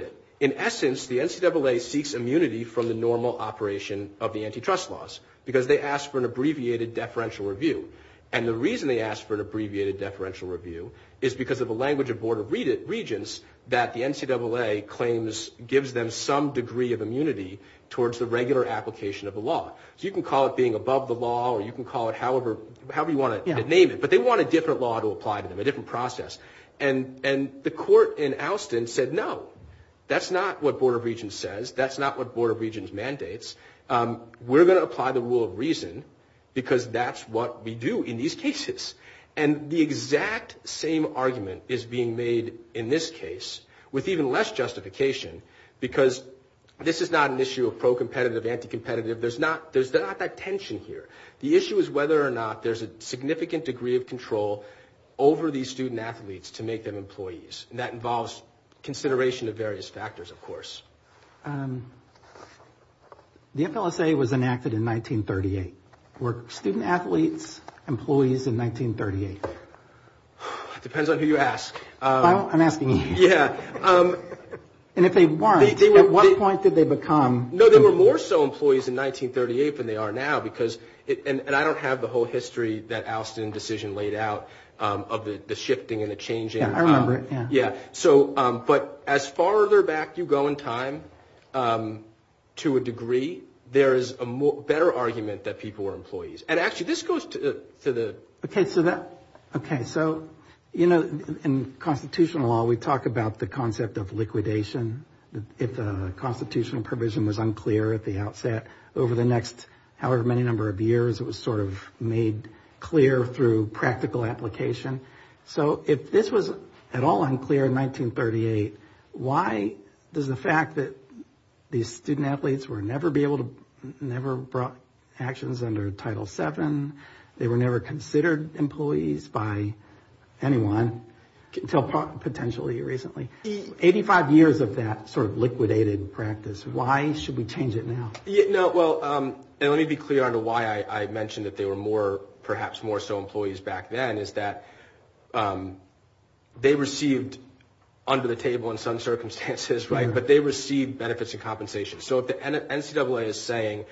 it – in essence, the NCAA seeks immunity from the normal operation of the antitrust laws because they asked for an abbreviated deferential review. And the reason they asked for an abbreviated deferential review is because of the language of Board of Regents that the NCAA claims gives them some degree of immunity towards the regular application of the law. So you can call it being above the law or you can call it however you want to name it, but they want a different law to apply to them, a different process. And the court in Alston said, no, that's not what Board of Regents says. That's not what Board of Regents mandates. We're going to apply the rule of reason because that's what we do in these cases. And the exact same argument is being made in this case with even less justification because this is not an issue of pro-competitive, anti-competitive. There's not that tension here. The issue is whether or not there's a significant degree of control over these student athletes to make them employees, and that involves consideration of various factors, of course. The FLSA was enacted in 1938. Were student athletes employees in 1938? Depends on who you ask. I'm asking you. Yeah. And if they weren't, at what point did they become? No, they were more so employees in 1938 than they are now because, and I don't have the whole history that Alston decision laid out of the shifting and the changing. Yeah, I remember it. But as farther back you go in time to a degree, there is a better argument that people were employees. And actually, this goes to the… Okay, so in constitutional law, we talk about the concept of liquidation. If the constitutional provision was unclear at the outset, over the next however many number of years, it was sort of made clear through practical application. So if this was at all unclear in 1938, why does the fact that these student athletes were never brought actions under Title VII, they were never considered employees by anyone until potentially recently, 85 years of that sort of liquidated practice, why should we change it now? Well, and let me be clear on why I mentioned that they were perhaps more so employees back then, is that they received under the table in some circumstances, right, but they received benefits and compensation. So if the NCAA is saying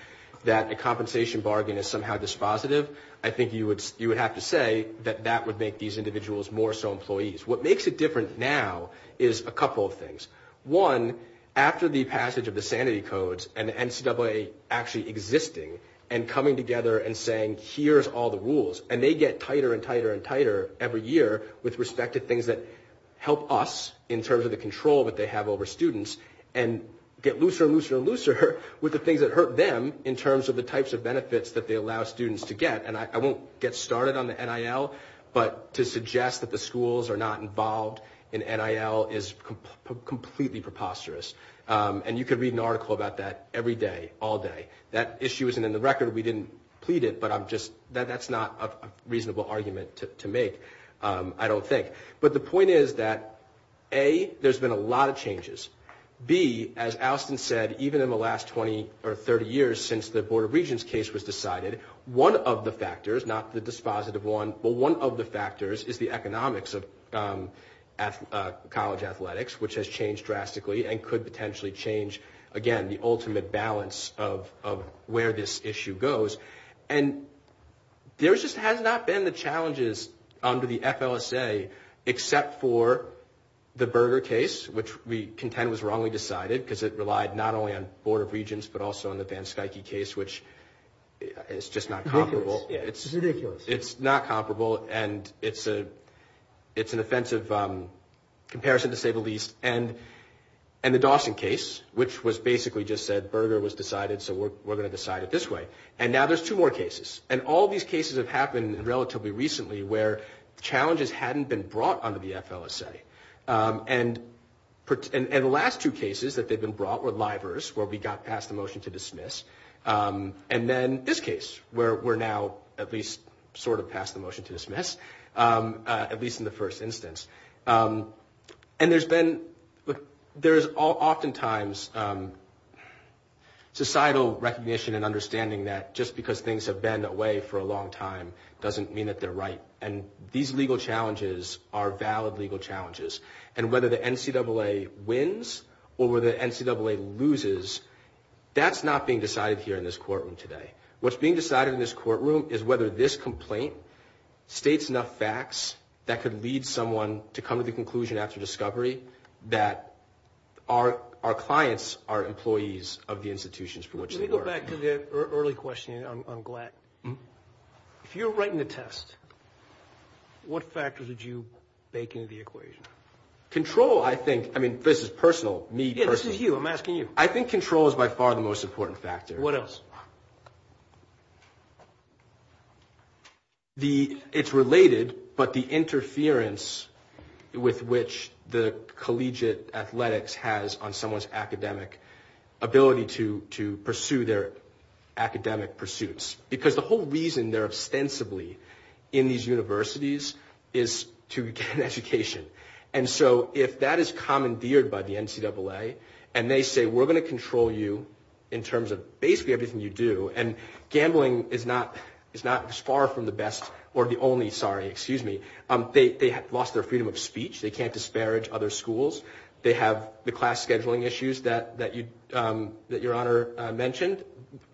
that the compensation bargain is somehow dispositive, I think you would have to say that that would make these individuals more so employees. What makes it different now is a couple of things. One, after the passage of the sanity codes and the NCAA actually existing and coming together and saying, here's all the rules, and they get tighter and tighter and tighter every year with respect to things that help us in terms of the control that they have over students, and get looser and looser and looser with the things that hurt them in terms of the types of benefits that they allow students to get. And I won't get started on the NIL, but to suggest that the schools are not involved in NIL is completely preposterous. And you could read an article about that every day, all day. That issue isn't in the record. We didn't plead it, but that's not a reasonable argument to make, I don't think. But the point is that, A, there's been a lot of changes. B, as Austin said, even in the last 20 or 30 years since the Board of Regents case was decided, one of the factors, not the dispositive one, but one of the factors is the economics of college athletics, which has changed drastically and could potentially change, again, the ultimate balance of where this issue goes. And there just has not been the challenges under the FLSA except for the Berger case, which we contend was wrongly decided because it relied not only on Board of Regents but also on the Van Stuyke case, which is just not comparable. It's ridiculous. It's not comparable, and it's an offensive comparison, to say the least. And the Dawson case, which was basically just said Berger was decided, so we're going to decide it this way. And now there's two more cases. And all these cases have happened relatively recently where challenges hadn't been brought under the FLSA. And the last two cases that they've been brought were livers, where we got past the motion to dismiss, and then this case, where we're now at least sort of past the motion to dismiss, at least in the first instance. And there's oftentimes societal recognition and understanding that just because things have been away for a long time doesn't mean that they're right. And these legal challenges are valid legal challenges. And whether the NCAA wins or whether the NCAA loses, that's not being decided here in this courtroom today. What's being decided in this courtroom is whether this complaint states enough facts that could lead someone to come to the conclusion after discovery that our clients are employees of the institutions for which they work. Let me go back to the early question, and I'm glad. If you're writing the test, what factors would you make into the equation? Control, I think. I mean, this is personal, me personally. Yeah, this is you. I'm asking you. I think control is by far the most important factor. What else? It's related, but the interference with which the collegiate athletics has on someone's academic ability to pursue their academic pursuits. Because the whole reason they're ostensibly in these universities is to get an education. And so if that is commandeered by the NCAA, and they say, we're going to control you in terms of basically everything you do. And gambling is not as far from the best or the only, sorry, excuse me. They lost their freedom of speech. They can't disparage other schools. They have the class scheduling issues that your honor mentioned.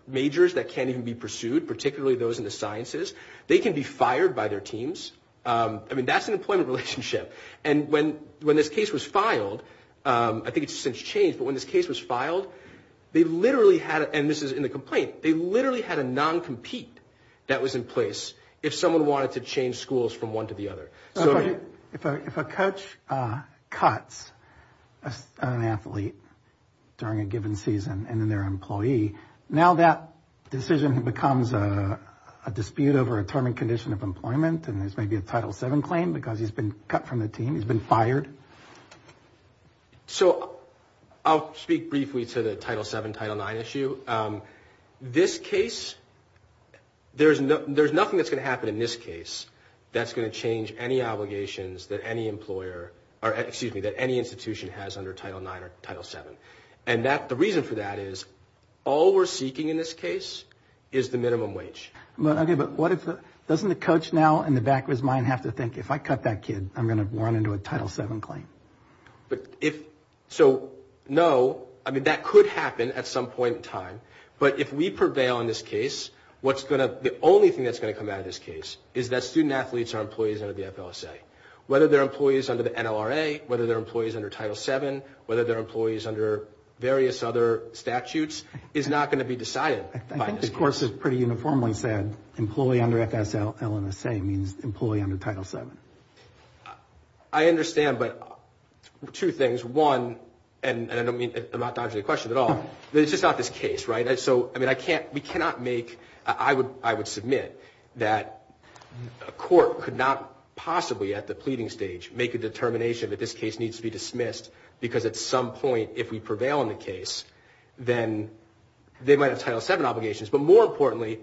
Majors that can't even be pursued, particularly those in the sciences. They can be fired by their teams. I mean, that's an employment relationship. And when this case was filed, I think it's since changed, but when this case was filed, they literally had, and this is in the complaint, they literally had a non-compete that was in place if someone wanted to change schools from one to the other. If a coach cuts an athlete during a given season and then their employee, now that decision becomes a dispute over a term and condition of employment, and there's maybe a Title VII claim because he's been cut from the team, he's been fired. So I'll speak briefly to the Title VII, Title IX issue. This case, there's nothing that's going to happen in this case that's going to change any obligations that any institution has under Title IX or Title VII. And the reason for that is all we're seeking in this case is the minimum wage. Okay, but doesn't the coach now in the back of his mind have to think, if I cut that kid, I'm going to run into a Title VII claim? So, no, I mean, that could happen at some point in time. But if we prevail in this case, the only thing that's going to come out of this case is that student-athletes are employees under the FFSA. Whether they're employees under the NLRA, whether they're employees under Title VII, whether they're employees under various other statutes is not going to be decided. I think the course is pretty uniformly said, employee under FFSA means employee under Title VII. I understand, but two things. One, and I'm not dodging the question at all, this is not this case, right? We cannot make, I would submit that a court could not possibly at the pleading stage make a determination that this case needs to be dismissed because at some point, if we prevail in the case, then they might have Title VII obligations. But more importantly,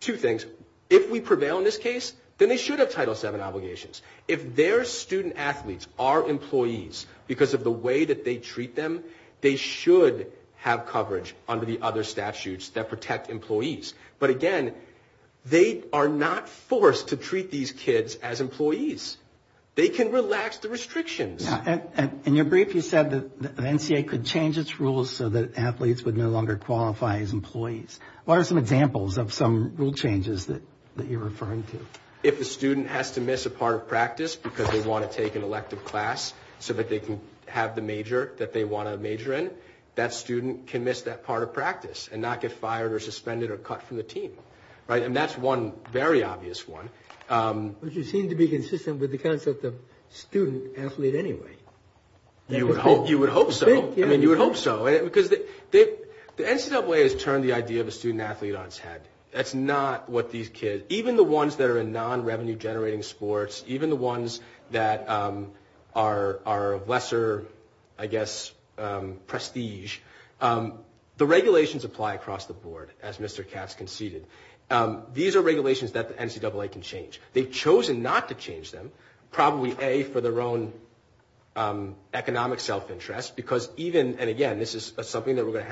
two things. If we prevail in this case, then they should have Title VII obligations. If their student-athletes are employees because of the way that they treat them, they should have coverage under the other statutes that protect employees. But again, they are not forced to treat these kids as employees. They can relax the restrictions. In your brief, you said that an NCAA could change its rules so that athletes would no longer qualify as employees. What are some examples of some rule changes that you're referring to? If a student has to miss a part of practice because they want to take an elective class so that they can have the major that they want to major in, that student can miss that part of practice and not get fired or suspended or cut from the team. And that's one very obvious one. But you seem to be consistent with the concept of student-athlete anyway. You would hope so. You would hope so because the NCAA has turned the idea of a student-athlete on its head. That's not what these kids, even the ones that are in non-revenue generating sports, even the ones that are lesser, I guess, prestige. The regulations apply across the board, as Mr. Katz conceded. These are regulations that the NCAA can change. They've chosen not to change them, probably A, for their own economic self-interest, because even, and again, this is something that's going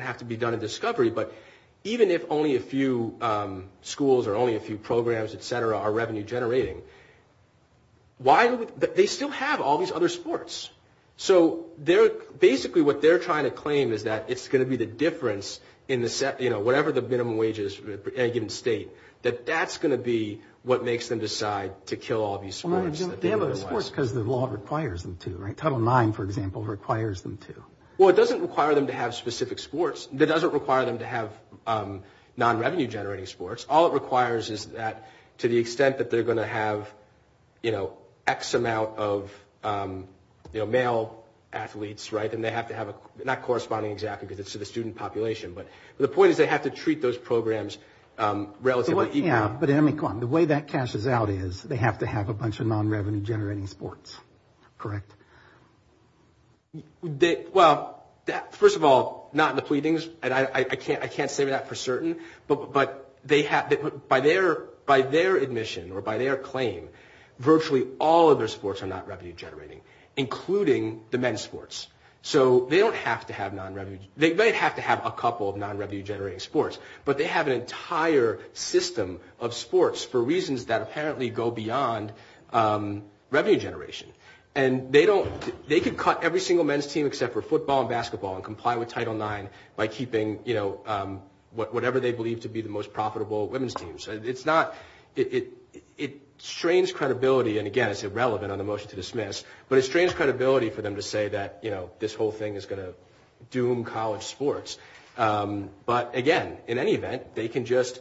to have to be done in discovery, but even if only a few schools or only a few programs, et cetera, are revenue generating, they still have all these other sports. So basically what they're trying to claim is that it's going to be the difference, whatever the minimum wage is at a given state, that that's going to be what makes them decide to kill all these sports. They have those sports because the law requires them to. Title IX, for example, requires them to. Well, it doesn't require them to have specific sports. It doesn't require them to have non-revenue generating sports. All it requires is that to the extent that they're going to have, you know, X amount of, you know, male athletes, right, and they have to have a, not corresponding exactly to the student population, but the point is they have to treat those programs relatively. Yeah, but I mean, come on. The way that cashes out is they have to have a bunch of non-revenue generating sports, correct? Well, first of all, not in the pleadings, and I can't say that for certain, but by their admission or by their claim, virtually all of their sports are not revenue generating, including the men's sports. So they don't have to have non-revenue, they may have to have a couple of non-revenue generating sports, but they have an entire system of sports for reasons that apparently go beyond revenue generation, and they don't, they can cut every single men's team except for football and basketball and comply with Title IX by keeping, you know, whatever they believe to be the most profitable women's teams. It's not, it strains credibility, and again, it's irrelevant on the motion to dismiss, but it strains credibility for them to say that, you know, this whole thing is going to doom college sports. But again, in any event, they can just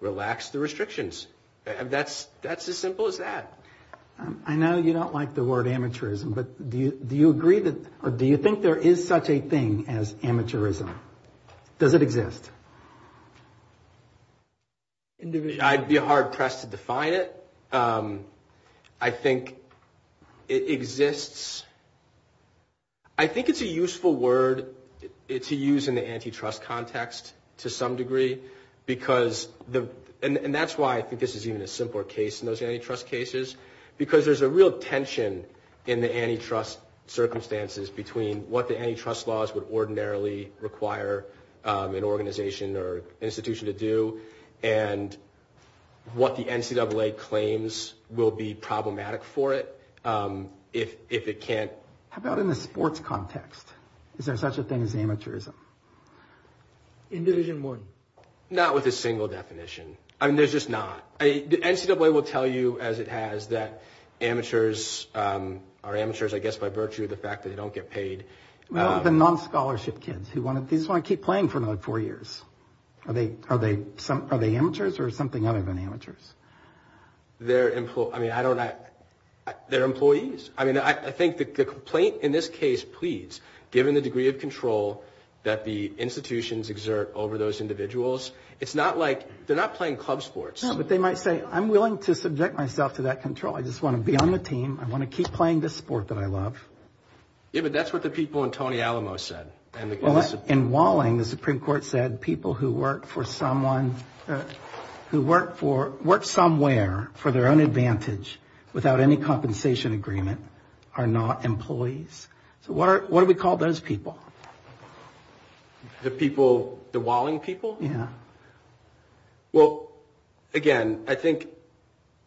relax the restrictions. That's as simple as that. I know you don't like the word amateurism, but do you agree that, or do you think there is such a thing as amateurism? Does it exist? I'd be hard pressed to define it. I think it exists. I think it's a useful word to use in the antitrust context to some degree, because, and that's why I think this is even a simpler case than those antitrust cases, because there's a real tension in the antitrust circumstances between what the antitrust laws would ordinarily require an organization or institution to do and what the NCAA claims will be problematic for it if it can't. How about in the sports context? Is there such a thing as amateurism? In Division I? Not with a single definition. I mean, there's just not. The NCAA will tell you, as it has, that amateurs are amateurs, I guess, by virtue of the fact that they don't get paid. What about the non-scholarship kids who just want to keep playing for another four years? Are they amateurs or something other than amateurs? They're employees. I mean, I think the complaint in this case pleads, given the degree of control that the institutions exert over those individuals, it's not like they're not playing club sports. No, but they might say, I'm willing to subject myself to that control. I just want to be on the team. I want to keep playing this sport that I love. Yeah, but that's what the people in Tony Alamo said. In Walling, the Supreme Court said people who work for someone, who work somewhere for their own advantage without any compensation agreement are not employees. So what do we call those people? The people, the Walling people? Yeah. Well, again, I think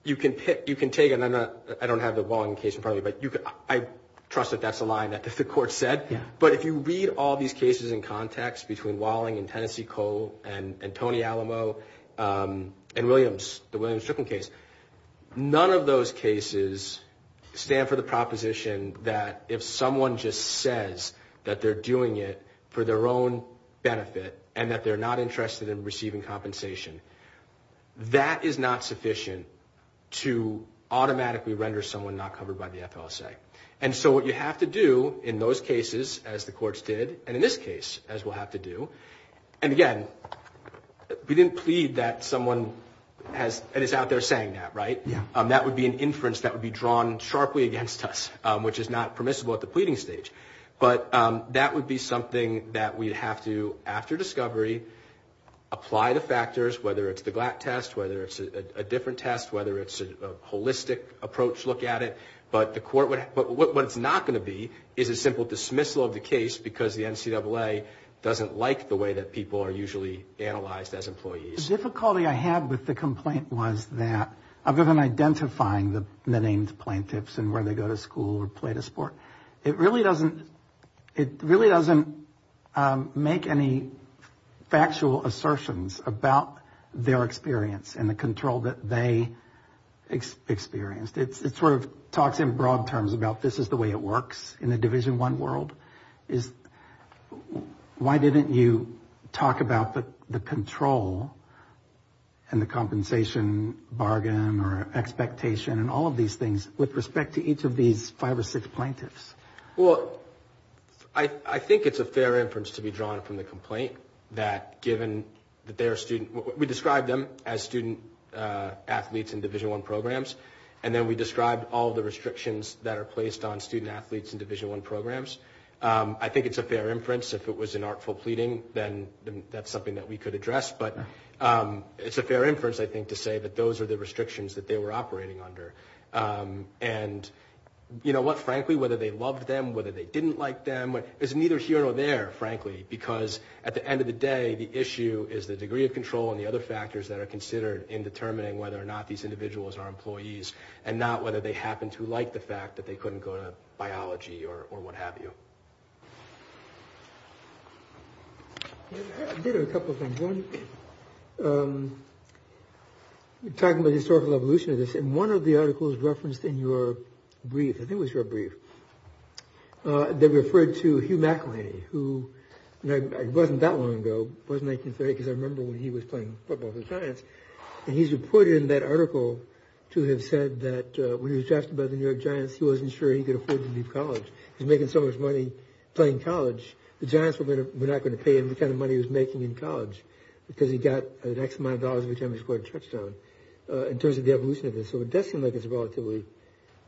you can take, and I don't have the Walling case in front of me, but I trust that that's a line that the court said. Yeah. But if you read all these cases in context between Walling and Tennessee Cole and Tony Alamo and Williams, the Williams-Fricken case, none of those cases stand for the proposition that if someone just says that they're doing it for their own benefit and that they're not interested in receiving compensation, that is not sufficient to automatically render someone not covered by the FLSA. And so what you have to do in those cases, as the courts did, and in this case, as we'll have to do, and again, we didn't plead that someone is out there saying that, right? That would be an inference that would be drawn sharply against us, which is not permissible at the pleading stage. But that would be something that we'd have to, after discovery, apply the factors, whether it's the Glatt test, whether it's a different test, whether it's a holistic approach, look at it. But what it's not going to be is a simple dismissal of the case because the NCAA doesn't like the way that people are usually analyzed as employees. The difficulty I had with the complaint was that, other than identifying the named plaintiffs and where they go to school or play the sport, it really doesn't make any factual assertions about their experience and the control that they experienced. It sort of talks in broad terms about this is the way it works in the Division I world. Why didn't you talk about the control and the compensation bargain or expectation and all of these things with respect to each of these five or six plaintiffs? Well, I think it's a fair inference to be drawn from the complaint that, given that they're students, we described them as student-athletes in Division I programs, and then we described all of the restrictions that are placed on student-athletes in Division I programs. I think it's a fair inference. If it was an artful pleading, then that's something that we could address. But it's a fair inference, I think, to say that those are the restrictions that they were operating under. And you know what? Frankly, whether they loved them, whether they didn't like them, it's neither here nor there, frankly, because at the end of the day, the issue is the degree of control and the other factors that are considered in determining whether or not these individuals are employees and not whether they happen to like the fact that they couldn't go to biology or what have you. I did have a couple of things. One, you're talking about the historical evolution of this, and one of the articles referenced in your brief, I think it was your brief, that referred to Hugh McElhaney, who, you know, it wasn't that long ago, it wasn't 1930, because I remember when he was playing football for the Giants, and he's reported in that article to have said that when he was drafted by the New York Giants, he wasn't sure he could afford to leave college. He was making so much money playing college, the Giants were not going to pay him which kind of money he was making in college, because he got an X amount of dollars every time he scored a trip zone, in terms of the evolution of this. So it does seem like it's a relatively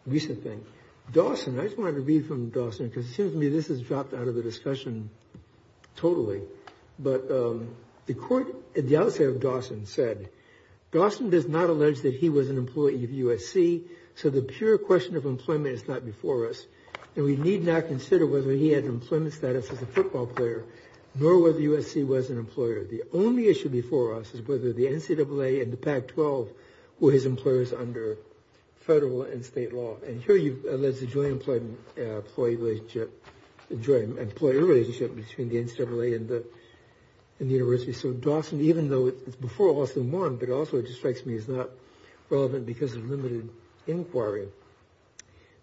recent thing. Dawson, I just wanted to read from Dawson, because it seems to me this has dropped out of the discussion totally. But the court, the other side of Dawson said, Dawson does not allege that he was an employee of USC, so the pure question of employment is not before us, and we need not consider whether he had employment status as a football player, nor whether USC was an employer. The only issue before us is whether the NCAA and the Pac-12 were his employers under federal and state law. And here you've alleged a joint employer relationship between the NCAA and the university. So Dawson, even though it's before Lawson won, but also it just strikes me as not relevant because of limited inquiry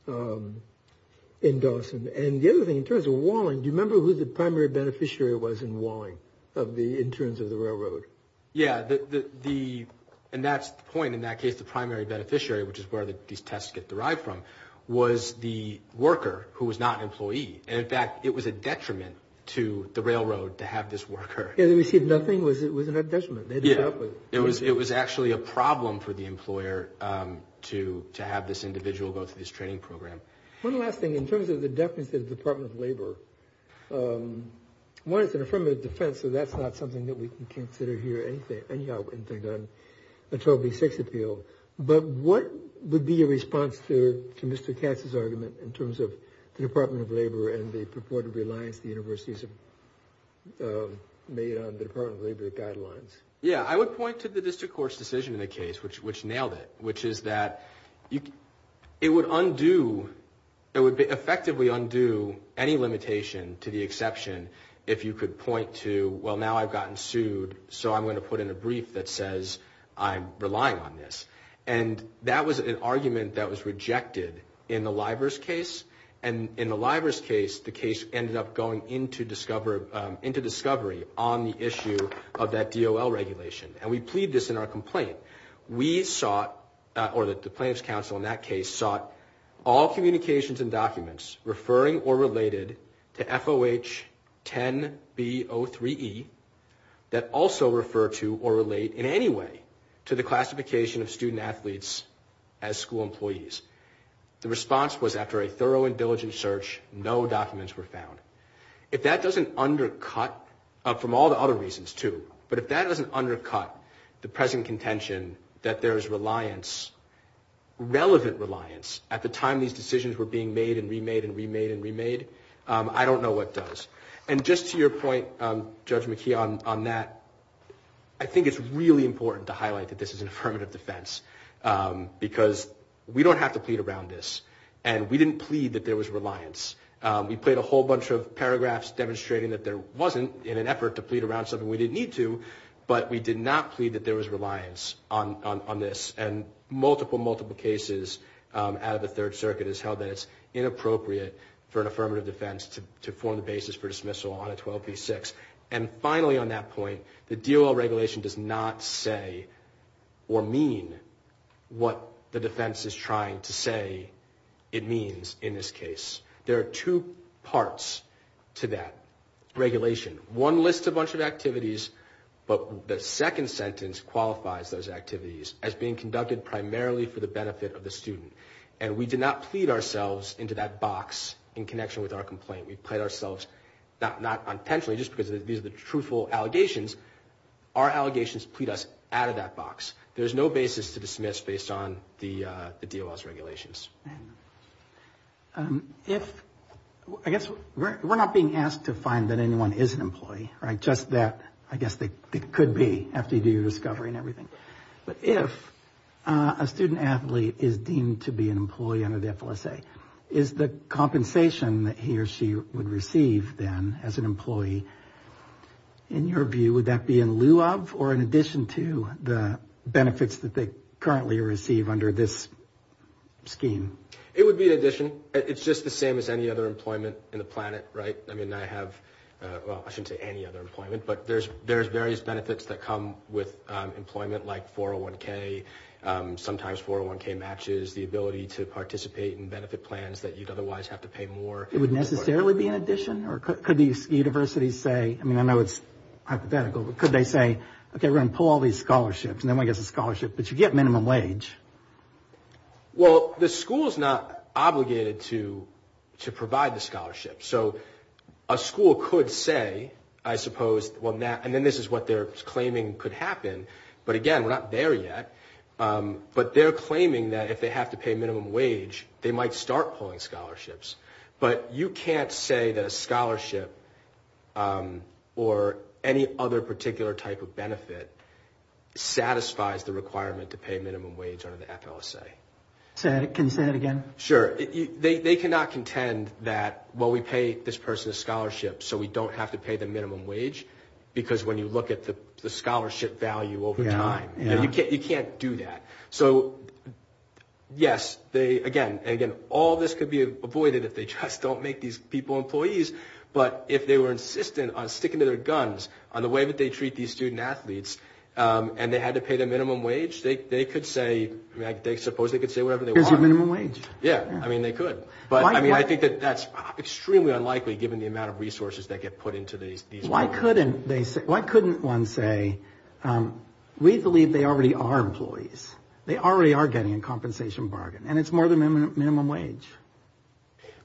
in Dawson. And the other thing, in terms of Walling, do you remember who the primary beneficiary was in Walling, in terms of the railroad? Yeah, and that's the point in that case, the primary beneficiary, which is where these tests get derived from, was the worker who was not an employee. In fact, it was a detriment to the railroad to have this worker. Yeah, they received nothing, it was a detriment. Yeah, it was actually a problem for the employer to have this individual go through this training program. One last thing, in terms of the definitive Department of Labor, one, it's an affirmative defense, so that's not something that we can consider here, anything on the 12B6 appeal. But what would be your response to Mr. Katz's argument in terms of the Department of Labor and the purported reliance the universities have made on the Department of Labor guidelines? Yeah, I would point to the district court's decision in the case, which nailed it, which is that it would undo, it would effectively undo any limitation to the exception if you could point to, well, now I've gotten sued, so I'm going to put in a brief that says I'm relying on this. And that was an argument that was rejected in the Livers case, and in the Livers case, the case ended up going into discovery on the issue of that DOL regulation, and we plead this in our complaint. We sought, or the plaintiff's counsel in that case, sought all communications and documents referring or related to FOH 10B03E that also refer to or relate in any way to the classification of student athletes as school employees. The response was after a thorough and diligent search, no documents were found. If that doesn't undercut, from all the other reasons too, but if that doesn't undercut the present contention that there is reliance, relevant reliance, at the time these decisions were being made and remade and remade and remade, I don't know what does. And just to your point, Judge McKee, on that, I think it's really important to highlight that this is an affirmative defense because we don't have to plead around this, and we didn't plead that there was reliance. We played a whole bunch of paragraphs demonstrating that there wasn't in an effort to plead around something we didn't need to, but we did not plead that there was reliance on this, and multiple, multiple cases out of the Third Circuit have held that it's inappropriate for an affirmative defense to form the basis for dismissal on a 1236. And finally on that point, the DOL regulation does not say or mean what the defense is trying to say it means in this case. There are two parts to that regulation. One lists a bunch of activities, but the second sentence qualifies those activities as being conducted primarily for the benefit of the student, and we did not plead ourselves into that box in connection with our complaint. We plead ourselves, not intentionally, just because these are the truthful allegations. Our allegations plead us out of that box. There's no basis to dismiss based on the DOL's regulations. I guess we're not being asked to find that anyone is an employee, right? Just that I guess it could be after you do your discovery and everything. If a student athlete is deemed to be an employee under the FLSA, is the compensation that he or she would receive then as an employee, in your view, would that be in lieu of or in addition to the benefits that they currently receive under this scheme? It would be in addition. It's just the same as any other employment in the planet, right? I mean, I have, well, I shouldn't say any other employment, but there's various benefits that come with employment like 401K, sometimes 401K matches, the ability to participate in benefit plans that you'd otherwise have to pay more. It would necessarily be in addition, or could these universities say, I mean, I know it's hypothetical, but could they say, okay, we're going to pull all these scholarships, and then we get the scholarship, but you get minimum wage. Well, the school is not obligated to provide the scholarship. So a school could say, I suppose, and then this is what they're claiming could happen, but again, we're not there yet, but they're claiming that if they have to pay minimum wage, they might start pulling scholarships. But you can't say that a scholarship or any other particular type of benefit satisfies the requirement to pay minimum wage under the FLSA. Can you say that again? Sure. They cannot contend that, well, we pay this person a scholarship, so we don't have to pay the minimum wage, because when you look at the scholarship value over time, you can't do that. So, yes, again, all this could be avoided if they just don't make these people employees, but if they were insistent on sticking to their guns on the way that they treat these student athletes, and they had to pay the minimum wage, they could say, I suppose they could say whatever they want. Why not minimum wage? Yeah, I mean, they could, but I think that that's extremely unlikely given the amount of resources that get put into these programs. Why couldn't one say, we believe they already are employees, they already are getting a compensation bargain, and it's more than minimum wage?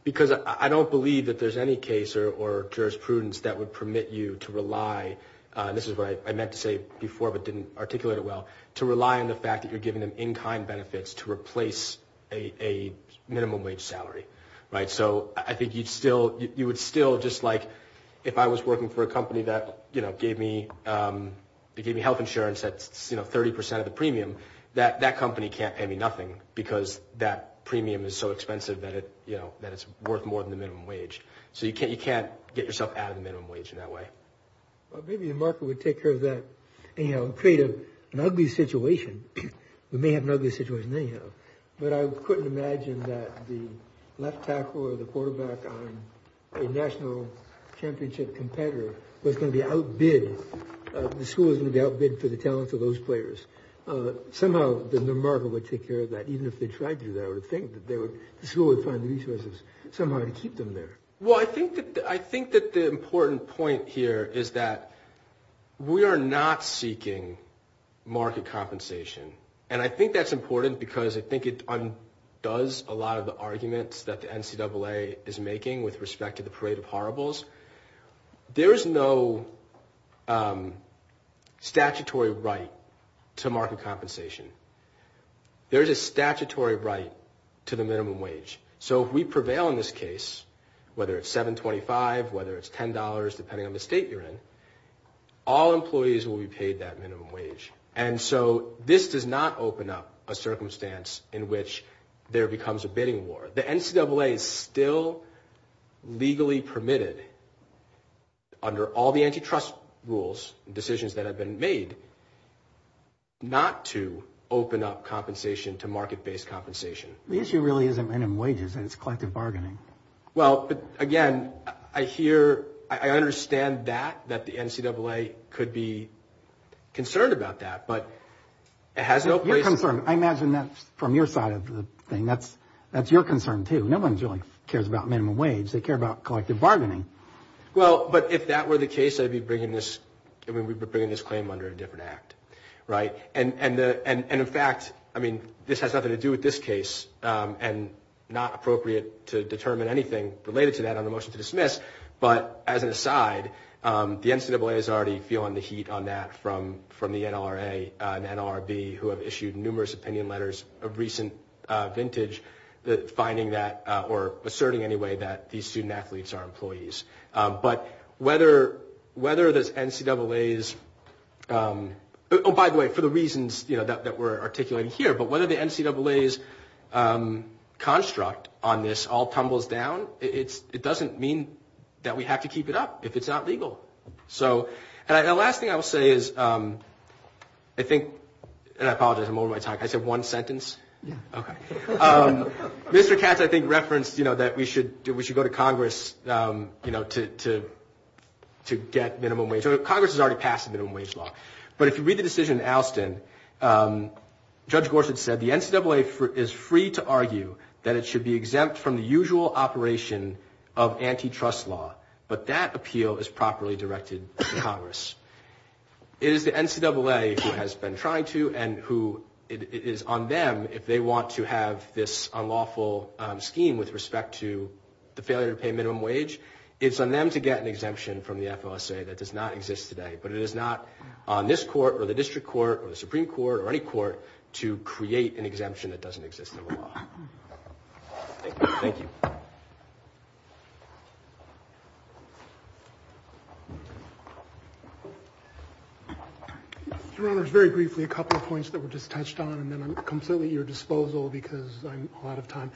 Because I don't believe that there's any case or jurisprudence that would permit you to rely, and this is what I meant to say before but didn't articulate it well, to rely on the fact that you're giving them one-time benefits to replace a minimum wage salary. So I think you would still, just like if I was working for a company that gave me health insurance that's 30% of the premium, that company can't pay me nothing because that premium is so expensive that it's worth more than the minimum wage. So you can't get yourself out of the minimum wage in that way. Well, maybe the market would take care of that and create an ugly situation. We may have an ugly situation anyhow, but I couldn't imagine that the left tackle or the quarterback on a national championship competitor would be outbid, the school would be outbid for the talent of those players. Somehow the market would take care of that, even if they tried to, they would think that the school would find the resources somehow to keep them there. Well, I think that the important point here is that we are not seeking market compensation. And I think that's important because I think it undoes a lot of the arguments that the NCAA is making with respect to the parade of horribles. There is no statutory right to market compensation. There is a statutory right to the minimum wage. So if we prevail in this case, whether it's $7.25, whether it's $10, depending on the state you're in, all employees will be paid that minimum wage. And so this does not open up a circumstance in which there becomes a bidding war. The NCAA is still legally permitted under all the antitrust rules, decisions that have been made, not to open up compensation to market-based compensation. The issue really isn't minimum wages, it's collective bargaining. Well, again, I hear, I understand that, that the NCAA could be concerned about that, but it has no place. You're concerned. I imagine that's from your side of the thing. That's your concern, too. No one really cares about minimum wage. They care about collective bargaining. Well, but if that were the case, I'd be bringing this claim under a different act, right? And in fact, I mean, this has nothing to do with this case and not appropriate to determine anything related to that on a motion to dismiss, but as an aside, the NCAA is already feeling the heat on that from the NLRA and NLRB who have issued numerous opinion letters of recent vintage finding that, or asserting anyway, that these student-athletes are employees. But whether the NCAAs, oh, by the way, for the reasons that we're articulating here, but whether the NCAA's construct on this all tumbles down, it doesn't mean that we have to keep it up if it's not legal. So, and the last thing I'll say is, I think, and I apologize, I'm over my time. I said one sentence? Yeah. Okay. Mr. Katz, I think, referenced, you know, that we should go to Congress, you know, to get minimum wage. Congress has already passed the minimum wage law, but if you read the decision in Alston, Judge Gorsuch said, the NCAA is free to argue that it should be exempt from the usual operation of antitrust law, but that appeal is properly directed to Congress. It is the NCAA who has been trying to and who it is on them if they want to have this unlawful scheme with respect to the failure to pay minimum wage, it's on them to get an exemption from the FOSA. That does not exist today, but it is not on this court or the district court or the Supreme Court or any court to create an exemption that doesn't exist in the law. Thank you. Your Honor, very briefly, a couple of points that were just touched on and then I'm completely at your disposal because I'm out of time.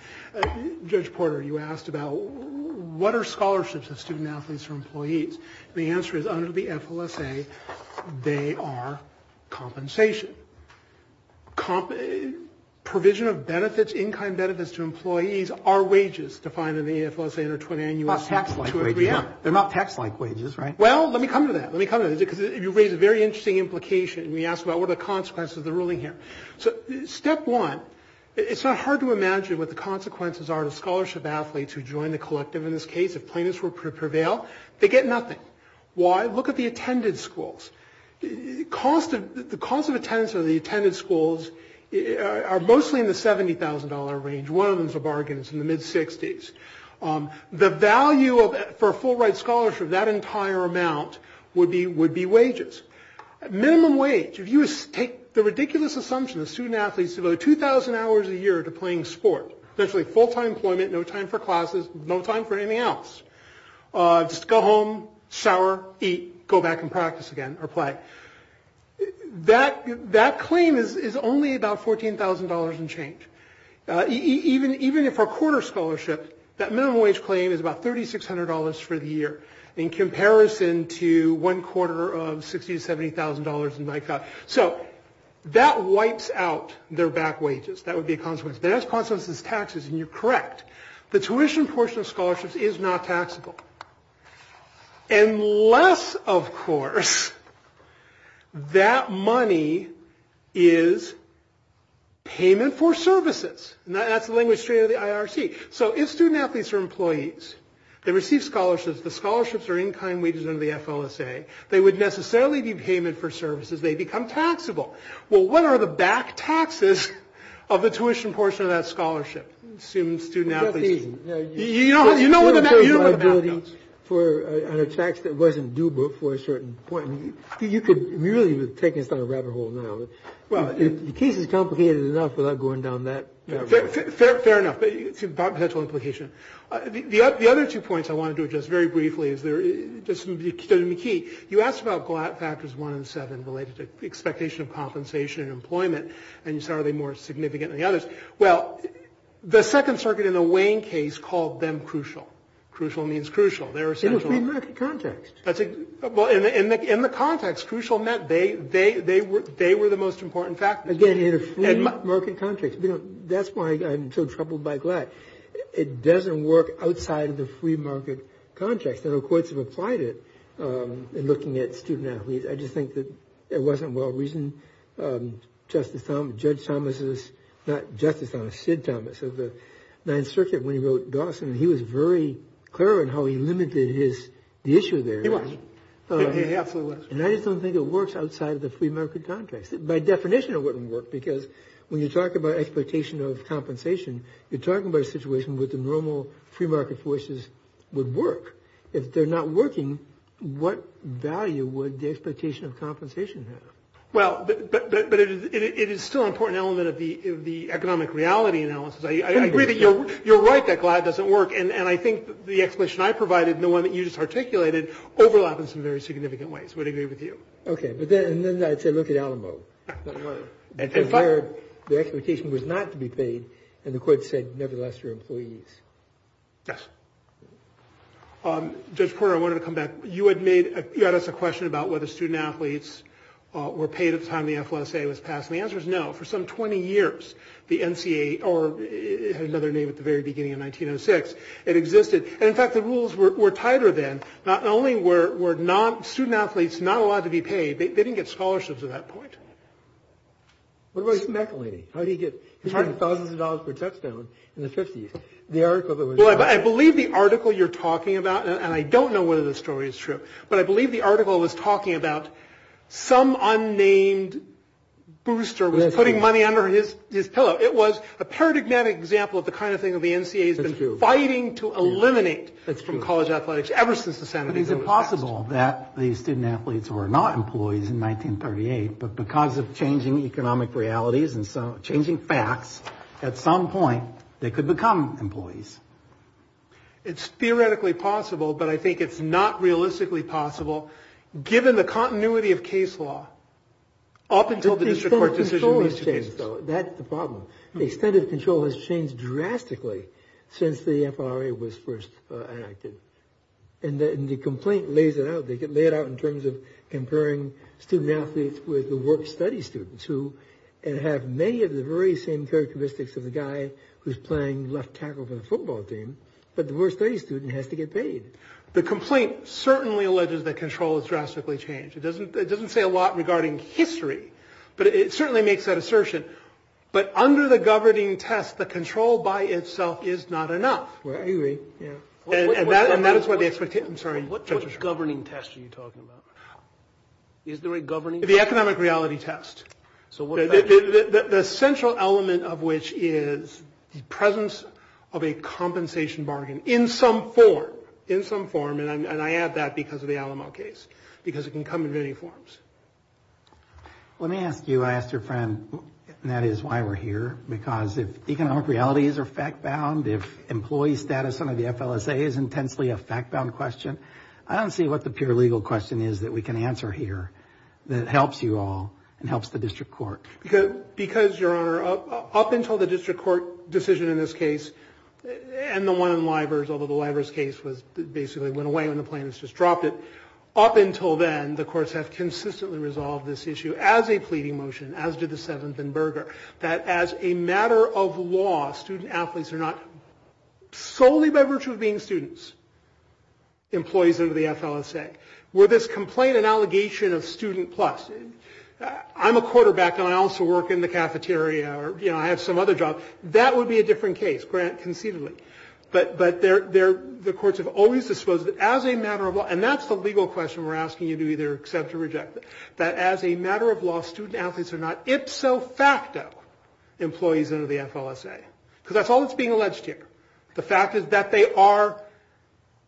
Judge Porter, you asked about what are scholarships to student athletes or employees? The answer is under the FOSA, they are compensation. Provision of benefits, in-kind benefits to employees are wages defined in the FOSA in the 20 annual statute. They're not tax-like wages, right? Well, let me come to that. Let me come to that because you raise a very interesting implication and you asked about what are the consequences of the ruling here. So step one, it's not hard to imagine what the consequences are to scholarship athletes who join the collective in this case if plaintiffs prevail. They get nothing. Why? Look at the attended schools. The cost of attendance in the attended schools are mostly in the $70,000 range. One of them is a bargain. It's in the mid-60s. The value for a full-ride scholarship, that entire amount would be wages. Minimum wage, if you take the ridiculous assumption that student athletes devote 2,000 hours a year to playing sports, essentially full-time employment, no time for classes, no time for anything else, just go home, shower, eat, go back and practice again or play, that claim is only about $14,000 and change. Even if a quarter scholarship, that minimum wage claim is about $3,600 for the year in comparison to one quarter of $60,000 to $70,000. So that wipes out their back wages. That would be a consequence. That is a consequence of taxes, and you're correct. The tuition portion of scholarships is not taxable. Unless, of course, that money is payment for services. That's the language of the IRC. So if student athletes are employees that receive scholarships, the scholarships are in-kind wages under the FLSA. They would necessarily be payment for services. They become taxable. Well, what are the back taxes of the tuition portion of that scholarship? Assuming student athletes... You know what the back... For a tax that wasn't doable for a certain point. You could really be taking us down a rabbit hole now. You can't be complicated enough without going down that rabbit hole. Fair enough. It's a potential implication. The other two points I want to do just very briefly is they're just going to be key. You asked about factors one and seven related to expectation of compensation and employment, and you said, are they more significant than the others? Well, the Second Circuit in a Wayne case called them crucial. Crucial means crucial. They're essential. In the free market context. Well, in the context, crucial meant they were the most important factors. Again, in a free market context. That's why I'm so troubled by GLAD. It doesn't work outside of the free market context. No courts have applied it in looking at student athletes. I just think that it wasn't well reasoned. Judge Thomas's... Not Justice Thomas, Sid Thomas of the Ninth Circuit, when he wrote Dawson, he was very clear on how he limited the issue there. He was. He absolutely was. And I just don't think it works outside of the free market context. By definition, it wouldn't work, because when you talk about expectation of compensation, you're talking about a situation where the normal free market forces would work. If they're not working, what value would the expectation of compensation have? Well, but it is still an important element of the economic reality analysis. I agree that you're right that GLAD doesn't work, and I think the explanation I provided and the one that you just articulated overlap in some very significant ways. I would agree with you. Okay, but then I'd say look at Alamo. Their expectation was not to be paid, and the court said, nevertheless, they're employees. Yes. Judge Porter, I wanted to come back. You had asked a question about whether student athletes were paid at the time the FOSA was passed, and the answer is no. For some 20 years, the NCAA, or it had another name at the very beginning in 1906, it existed. In fact, the rules were tighter then. Not only were student athletes not allowed to be paid, they didn't get scholarships at that point. What about Michael Levy? How did he get hundreds of thousands of dollars per test done in the 50s? Well, I believe the article you're talking about, and I don't know whether this story is true, but I believe the article was talking about some unnamed booster was putting money under his pillow. It was a paradigmatic example of the kind of thing that the NCAA has been fighting to eliminate from college athletics ever since the 1970s. Is it possible that these student athletes were not employees in 1938, but because of changing economic realities and changing facts, at some point, they could become employees? It's theoretically possible, but I think it's not realistically possible, given the continuity of case law up until the district court decision makes the case. That's the problem. The extent of control has changed drastically since the FLRA was first enacted, and the complaint lays it out. They lay it out in terms of comparing student athletes with the worst study students, who have many of the very same characteristics of a guy who's playing left tackled on a football team, but the worst study student has to get paid. The complaint certainly alleges that control has drastically changed. It doesn't say a lot regarding history, but it certainly makes that assertion. But under the governing test, the control by itself is not enough. And that is where they forget. I'm sorry. What governing test are you talking about? The economic reality test. The central element of which is the presence of a compensation bargain in some form, and I add that because of the Alamo case, because it can come in many forms. Let me ask you, I asked your friend, and that is why we're here, because if economic realities are fact-bound, if employee status under the FLSA is intensely a fact-bound question, I don't see what the pure legal question is that we can answer here that helps you all and helps the district court. Because, Your Honor, up until the district court decision in this case, and the one in Livers, although the Livers case basically went away when the plaintiffs just dropped it, up until then, the courts have consistently resolved this issue as a pleading motion, as did the 7th and Berger, that as a matter of law, student athletes are not solely by virtue of being students, employees of the FLSA. With this complaint and allegation of student plus, I'm a quarterback and I also work in the cafeteria, you know, I have some other job. That would be a different case, granted, conceivably. But the courts have always disclosed that as a matter of law, and that's the legal question we're asking you to either accept or reject, that as a matter of law, student athletes are not ipso facto employees under the FLSA. Because that's all that's being alleged here. The fact is that they are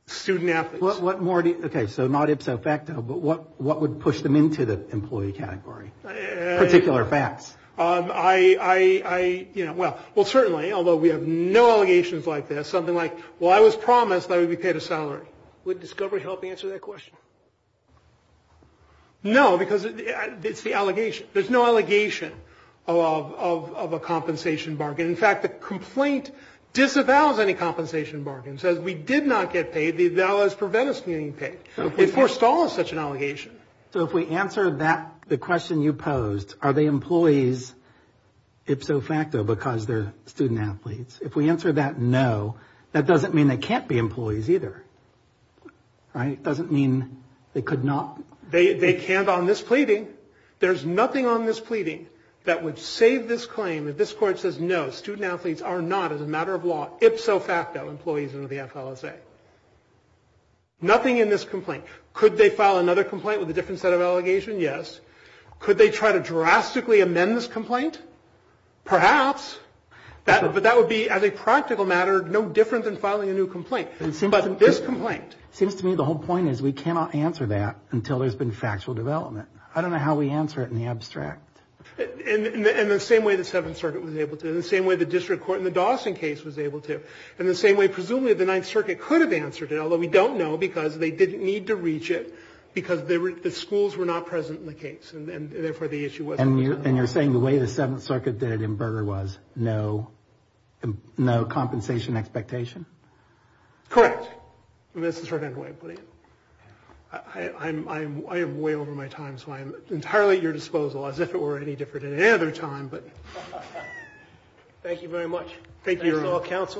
student athletes. Okay, so not ipso facto, but what would push them into the employee category? Particular facts. I, you know, well, certainly, although we have no allegations like this, something like, well, I was promised that I would be paid a salary. Would discovery help answer that question? No, because it's the allegation. There's no allegation of a compensation bargain. In fact, the complaint disavows any compensation bargain. It says we did not get paid. It now has prevented us from getting paid. It foresaw such an allegation. So if we answer that, the question you posed, are they employees ipso facto because they're student athletes? If we answer that no, that doesn't mean they can't be employees either. It doesn't mean they could not. They can't on this pleading. There's nothing on this pleading that would save this claim if this court says no, student athletes are not, as a matter of law, ipso facto employees under the FLSA. Nothing in this complaint. Could they file another complaint with a different set of allegations? Yes. Could they try to drastically amend this complaint? Perhaps. But that would be, as a practical matter, no different than filing a new complaint. It seems to me the whole point is we cannot answer that until there's been factual development. I don't know how we answer it in the abstract. In the same way the Seventh Circuit was able to. In the same way the district court in the Dawson case was able to. In the same way, presumably, the Ninth Circuit could have answered it, although we don't know because they didn't need to reach it because the schools were not present in the case, and therefore the issue wasn't resolved. And you're saying the way the Seventh Circuit did in Berger was no compensation expectation? Correct. I'm way over my time, so I'm entirely at your disposal, as if it were any different at any other time. Thank you very much. Thank you, Your Honor.